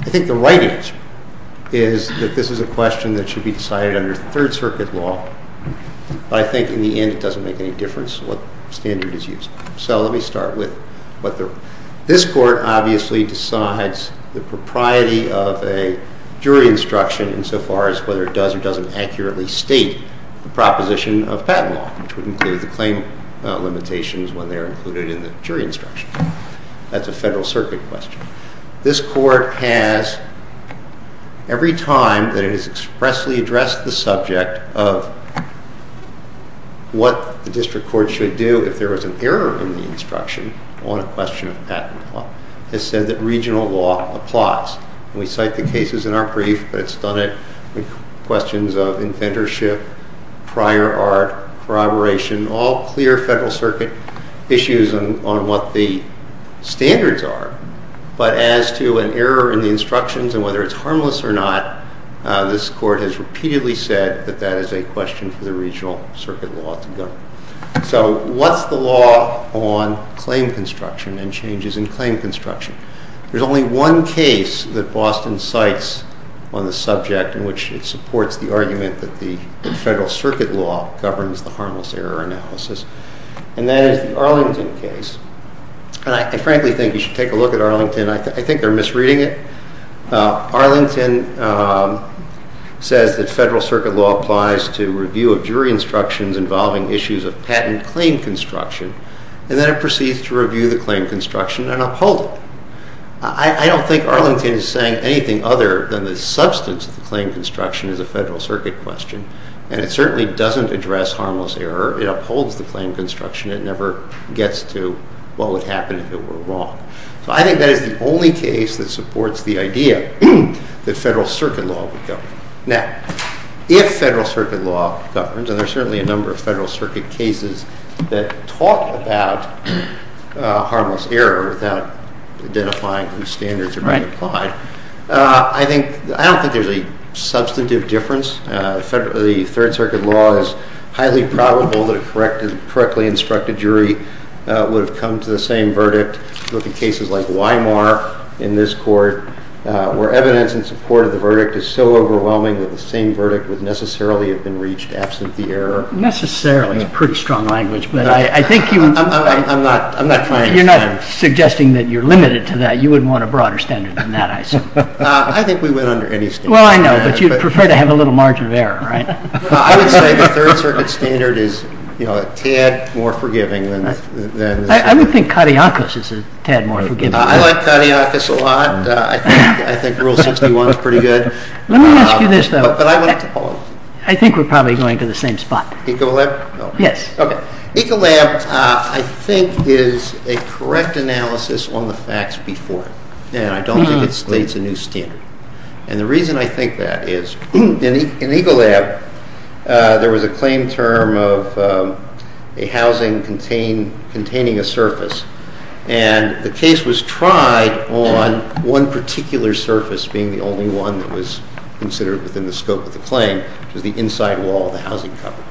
I think the right answer is that this is a question that should be decided under Third Circuit law, but I think in the end it doesn't make any difference what standard is used. So let me start with what the, this court obviously decides the propriety of a jury instruction insofar as whether it does or doesn't accurately state the proposition of fat law, which would include the claim limitations when they are included in the jury instruction. That's a Federal Circuit question. This court has, every time that it has expressly addressed the subject of what the district court should do if there is an error in the instruction on a question of patent law, it said that regional law applies. We cite the cases in our brief, but it's done it with questions of inventorship, prior art, corroboration, all clear Federal Circuit issues on what the standards are. But as to an error in the instructions and whether it's harmless or not, this court has repeatedly said that that is a question for the regional circuit law to go. So what's the law on claim construction and changes in claim construction? There's only one case that Boston cites on the subject in which it supports the argument that the Federal Circuit law governs the harmless error analysis, and that is the Arlington case. I frankly think you should take a look at Arlington. I think they're misreading it. Arlington says that Federal Circuit law applies to review of jury instructions involving issues of patent claim construction, and then it proceeds to review the claim construction and uphold it. I don't think Arlington is saying anything other than the substance of claim construction is a Federal Circuit question, and it certainly doesn't address harmless error. It upholds the claim construction. It never gets to, well, it happened if it were wrong. So I think that is the only case that supports the idea that Federal Circuit law governs. Now, if Federal Circuit law governs, and there are certainly a number of Federal Circuit cases that talk about harmless error without identifying whose standards are being defined, I don't think there's a substantive difference. The Federal Circuit law is highly probable that a correctly instructed jury would have come to the same verdict looking at cases like Weimar in this court where evidence in support of the verdict is so overwhelming that the same verdict would necessarily have been reached absent the error. Necessarily is a pretty strong language, but I think you would... I'm not trying to... You're not suggesting that you're limited to that. You would want a broader standard than that, I assume. I think we've been under any standard. Well, I know, but you prefer to have a little margin of error, right? I would say the Federal Circuit standard is, you know, a tad more forgiving than... I don't think Katiakis is a tad more forgiving. I like Katiakis a lot. I think Rule 61 is pretty good. Let me ask you this, though. I think we're probably going to the same spot. Ecolab? Yes. Okay. Ecolab, I think, is a correct analysis on the facts before it. And I don't think it creates a new standard. And the reason I think that is, in Ecolab, there was a claim term of a housing containing a surface. And the case was tried on one particular surface being the only one that was considered within the scope of the claim, which was the inside wall of the housing company.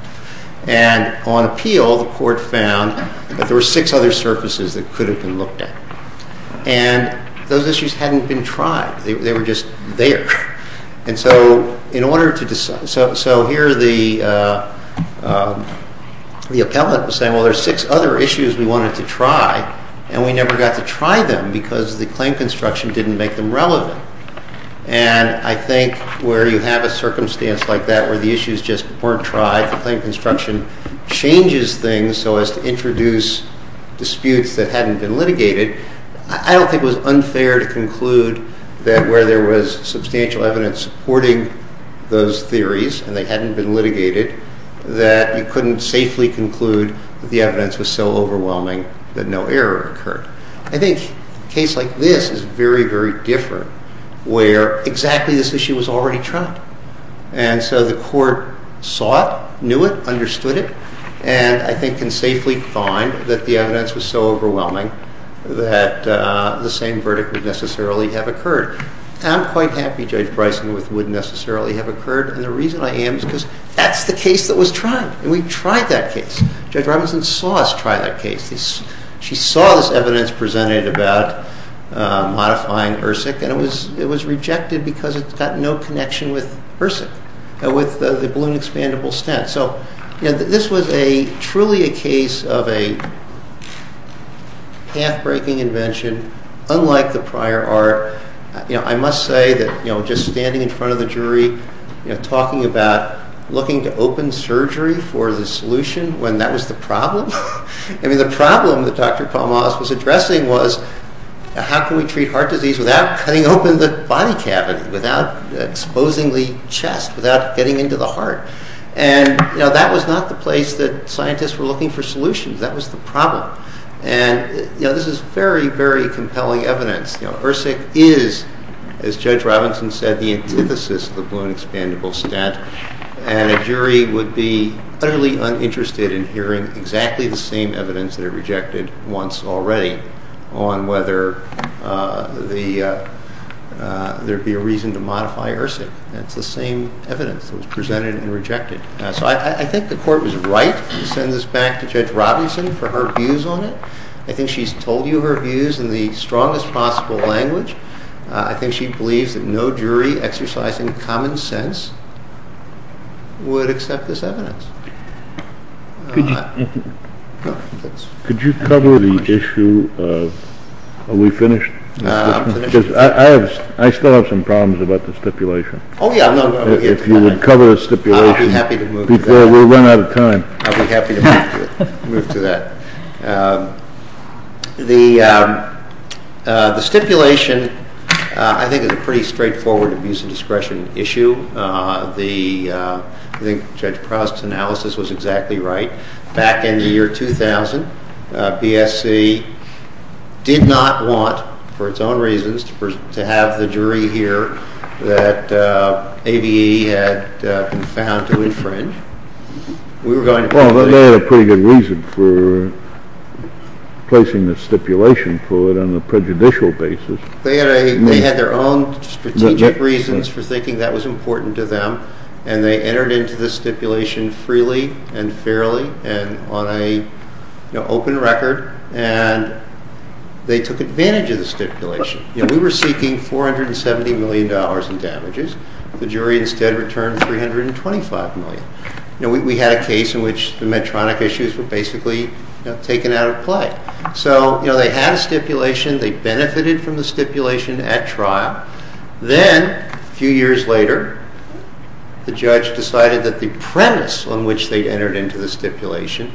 And on appeal, the court found that there were six other surfaces that could have been looked at. And those issues hadn't been tried. They were just there. And so here the appellate is saying, well, there's six other issues we wanted to try, and we never got to try them because the claim construction didn't make them relevant. And I think where you have a circumstance like that where the issues just weren't tried, the claim construction changes things so as to introduce disputes that hadn't been litigated, I don't think it was unfair to conclude that where there was substantial evidence supporting those theories and they hadn't been litigated, that it couldn't safely conclude that the evidence was so overwhelming that no error occurred. I think a case like this is very, very different where exactly this issue was already tried. And so the court saw it, knew it, understood it, and I think can safely find that the evidence was so overwhelming that the same verdict would necessarily have occurred. I'm quite happy Judge Bryson that it wouldn't necessarily have occurred, and the reason I am is because that's the case that was tried, and we tried that case. Judge Bryson saw us try that case. She saw this evidence presented about modifying ERSIC, and it was rejected because it had no connection with ERSIC, with the balloon expandable stand. So this was truly a case of a half-breaking invention, unlike the prior art. I must say that just standing in front of the jury, talking about looking to open surgery for the solution when that was the problem, I mean the problem that Dr. Tomas was addressing was how can we treat heart disease without cutting open the body cavity, without exposing the chest, without getting into the heart? And that was not the place that scientists were looking for solutions. That was the problem. And this is very, very compelling evidence. ERSIC is, as Judge Robinson said, the emphasis of balloon expandable stand, and a jury would be utterly uninterested in hearing exactly the same evidence that it rejected once already on whether there would be a reason to modify ERSIC. That's the same evidence that was presented and rejected. So I think the court was right to send this back to Judge Robinson for her views on it. I think she's told you her views in the strongest possible language. I think she believes that no jury exercising common sense would accept this evidence. Could you cover the issue of, are we finished? Because I still have some problems about the stipulation. Oh, yeah. If you would cover the stipulation. I would be happy to move to that. Because we've run out of time. I would be happy to move to that. The stipulation I think is a pretty straightforward abuse of discretion issue. I think Judge Cross's analysis was exactly right. Back in the year 2000, PSC did not want, for its own reasons, to have the jury here that ABE had been found to infringe. Well, they had a pretty good reason for placing the stipulation for it on a prejudicial basis. They had their own strategic reasons for thinking that was important to them, and they entered into the stipulation freely and fairly and on an open record, and they took advantage of the stipulation. We were seeking $470 million in damages. The jury instead returned $325 million. We had a case in which the Medtronic issues were basically taken out of play. So they had a stipulation. They benefited from the stipulation at trial. Then, a few years later, the judge decided that the premise on which they entered into the stipulation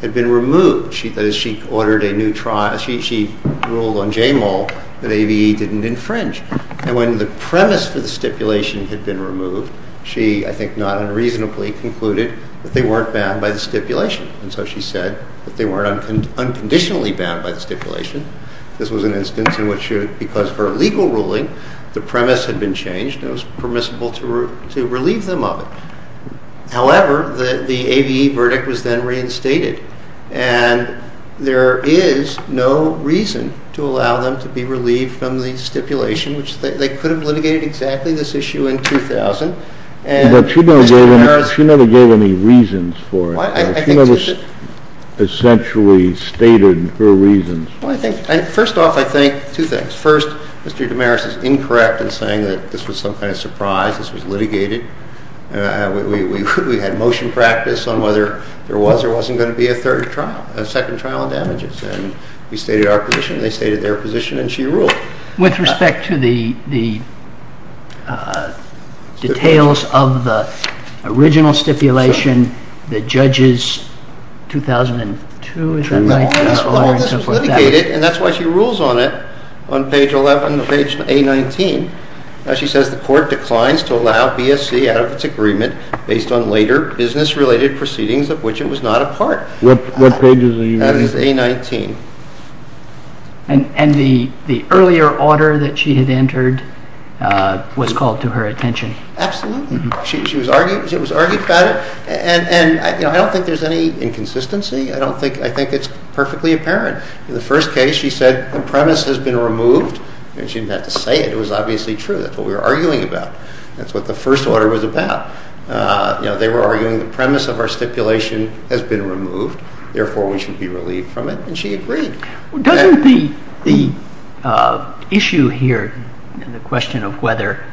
had been removed. She ordered a new trial. She ruled on JAMAL that ABE didn't infringe. And when the premise of the stipulation had been removed, she, I think not unreasonably, concluded that they weren't bound by the stipulation. And so she said that they were unconditionally bound by the stipulation. This was an instance in which, because of her legal ruling, the premise had been changed and it was permissible to relieve them of it. However, the ABE verdict was then reinstated, and there is no reason to allow them to be relieved from the stipulation. They could have litigated exactly this issue in 2000. She never gave any reasons for it. She only essentially stated her reasons. First off, I think two things. First, Mr. Damaris is incorrect in saying that this was some kind of surprise. This was litigated. We had motion practice on whether there was or wasn't going to be a third trial, a second trial on damages. We stated our position, they stated their position, and she ruled. With respect to the details of the original stipulation, the judges, 2002, is that right? She litigated, and that's why she rules on it, on page 11 of page A19. She says the court declines to allow BSC out of its agreement based on later business-related proceedings of which it was not a part. What page is A19? Page A19. And the earlier order that she had entered was called to her attention. Absolutely. She was arguing about it, and I don't think there's any inconsistency. I think it's perfectly apparent. In the first case, she said the premise has been removed, and she meant to say it. It was obviously true. That's what we were arguing about. That's what the first order was about. They were arguing the premise of our stipulation has been removed, therefore we should be relieved from it, and she agreed. Doesn't the issue here in the question of whether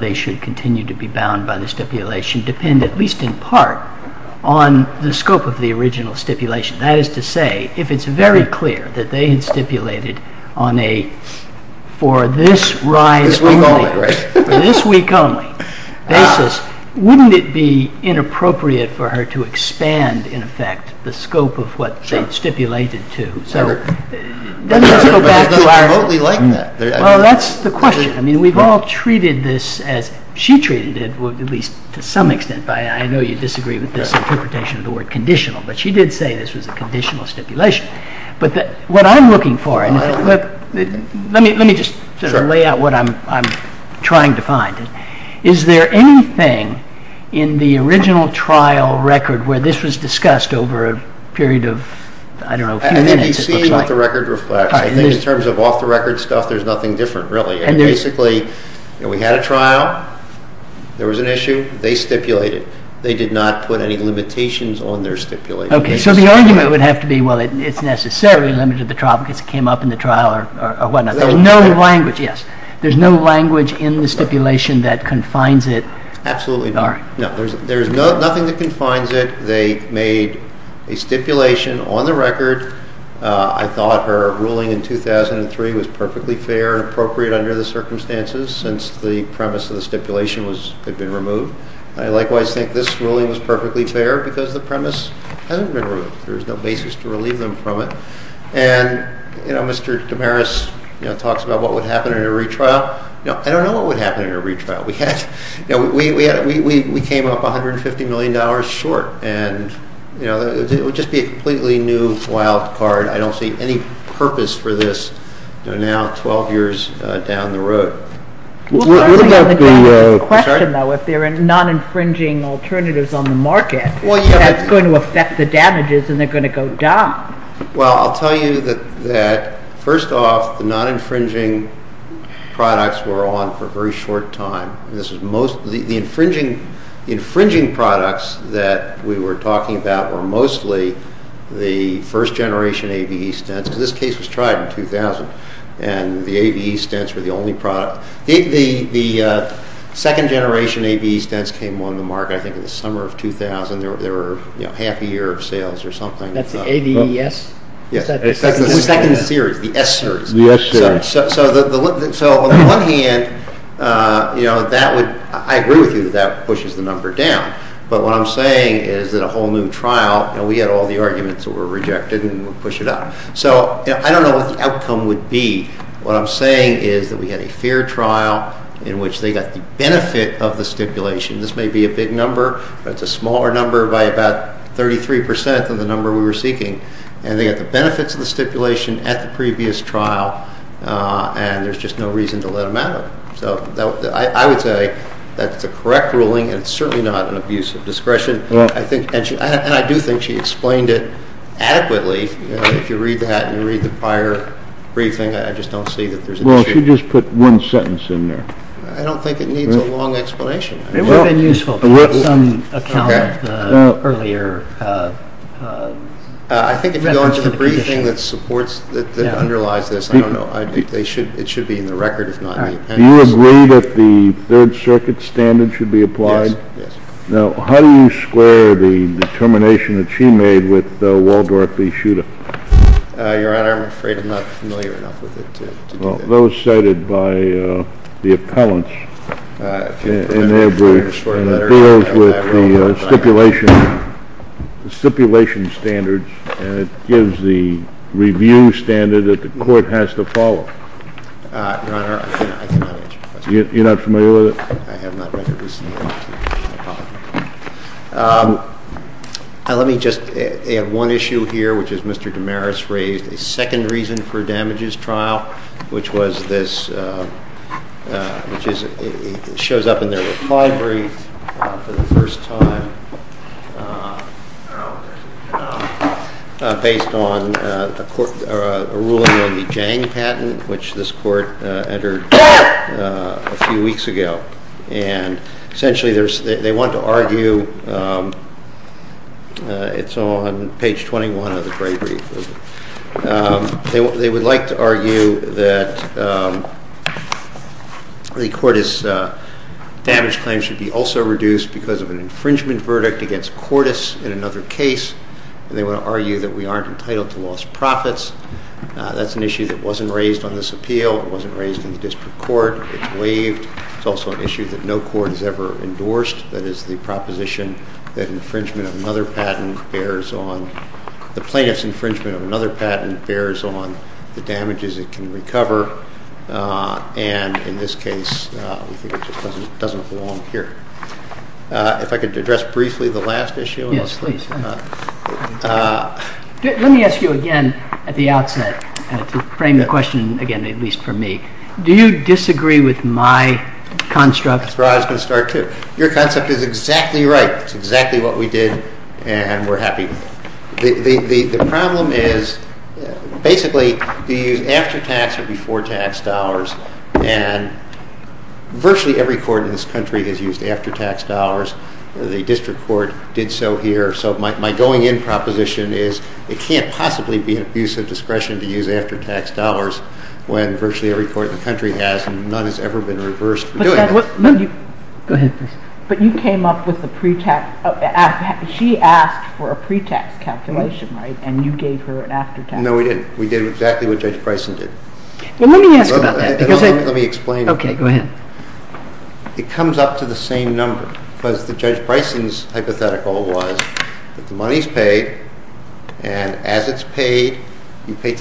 they should continue to be bound by the stipulation depend, at least in part, on the scope of the original stipulation? That is to say, if it's very clear that they had stipulated on a for-this-rise-only basis, wouldn't it be inappropriate for her to expand, in effect, the scope of what they had stipulated to? That's the question. I mean, we've all treated this as-she treated it, at least to some extent. I know you disagree with this interpretation of the word conditional, but she did say this was a conditional stipulation. But what I'm looking for-let me just lay out what I'm trying to find. Is there anything in the original trial record where this was discussed over a period of, I don't know, a few minutes? It's not the record. In terms of off-the-record stuff, there's nothing different, really. Basically, we had a trial. There was an issue. They stipulated. They did not put any limitations on their stipulation. Okay, so the argument would have to be, well, it's necessary under the trial because it came up in the trial or whatnot. There's no language, yes. Absolutely not. No, there's nothing that confines it. They made a stipulation on the record. I thought her ruling in 2003 was perfectly fair and appropriate under the circumstances since the premise of the stipulation had been removed. I likewise think this ruling is perfectly fair because the premise hasn't been removed. There's no basis to relieve them from it. And, you know, Mr. Tamaris talks about what would happen in a retrial. I don't know what would happen in a retrial. We came up $150 million short. And, you know, it would just be a completely new, wild card. I don't see any purpose for this. We're now 12 years down the road. The question, though, is there are non-infringing alternatives on the market that's going to affect the damages and they're going to go down. Well, I'll tell you that, first off, the non-infringing products were on for a very short time. The infringing products that we were talking about were mostly the first-generation AVE stents. This case was tried in 2000, and the AVE stents were the only product. The second-generation AVE stents came on the market, I think, in the summer of 2000. They were half a year of sales or something. That's the ADES? Yes. The second series, the S series. The S series. So what we're looking at, you know, that would—I agree with you that that pushes the number down. But what I'm saying is that a whole new trial, you know, we had all the arguments that were rejected, and we'll push it up. So I don't know what the outcome would be. What I'm saying is that we had a fair trial in which they got the benefit of the stipulation. This may be a big number, but it's a smaller number by about 33 percent than the number we were seeking. And they got the benefits of the stipulation at the previous trial, and there's just no reason to let them out. So I would say that the correct ruling is certainly not an abuse of discretion. And I do think she explained it adequately. If you read that and read the prior briefing, I just don't see that there's a— Well, she just put one sentence in there. I don't think it needs a long explanation. It would have been useful for some account earlier. I think if you go to the briefing that supports—that underlies this, I don't know. I think it should be in the record, if not in the appendix. Do you agree that the Third Circuit standard should be applied? Yes. Now, how do you square the determination that she made with Waldorf v. Schueter? Your Honor, I'm afraid I'm not familiar enough with it to— Well, those cited by the appellants in their briefs, and it deals with the stipulation standards, and it gives the review standard that the court has to follow. Your Honor, I'm not familiar with it. You're not familiar with it? I have not read it. Let me just add one issue here, which is Mr. DeMaris raised. The second reason for damages trial, which was this— which shows up in their defibrillatory for the first time, based on a ruling on the Jang patent, which this court entered a few weeks ago. Essentially, they want to argue—it's on page 21 of the great brief. They would like to argue that the Cordes damage claim should be also reduced because of an infringement verdict against Cordes in another case. They would argue that we aren't entitled to loss of profits. That's an issue that wasn't raised on this appeal. It wasn't raised in the district court. It's waived. It's also an issue that no court has ever endorsed. That is the proposition that infringement of another patent bears on— the plaintiff's infringement of another patent bears on the damages it can recover, and in this case, it just doesn't belong here. If I could address briefly the last issue. Yes, please. Let me ask you again at the outset to frame the question again, at least for me. Do you disagree with my construct? I was going to start, too. Your construct is exactly right. It's exactly what we did, and we're happy. The problem is, basically, you use after-tax or before-tax dollars, and virtually every court in this country has used after-tax dollars. The district court did so here, so my going-in proposition is it can't possibly be an abuse of discretion to use after-tax dollars when virtually every court in the country has and none has ever been reversed for doing it. Go ahead, please. But you came up with the pre-tax—she asked for a pre-tax calculation, right, and you gave her an after-tax. No, we didn't. We did exactly what Judge Bryson did. Let me ask you about that. Let me explain. Okay, go ahead. It comes up to the same number, because Judge Bryson's hypothetical was that the money's paid, and as it's paid, you pay taxes.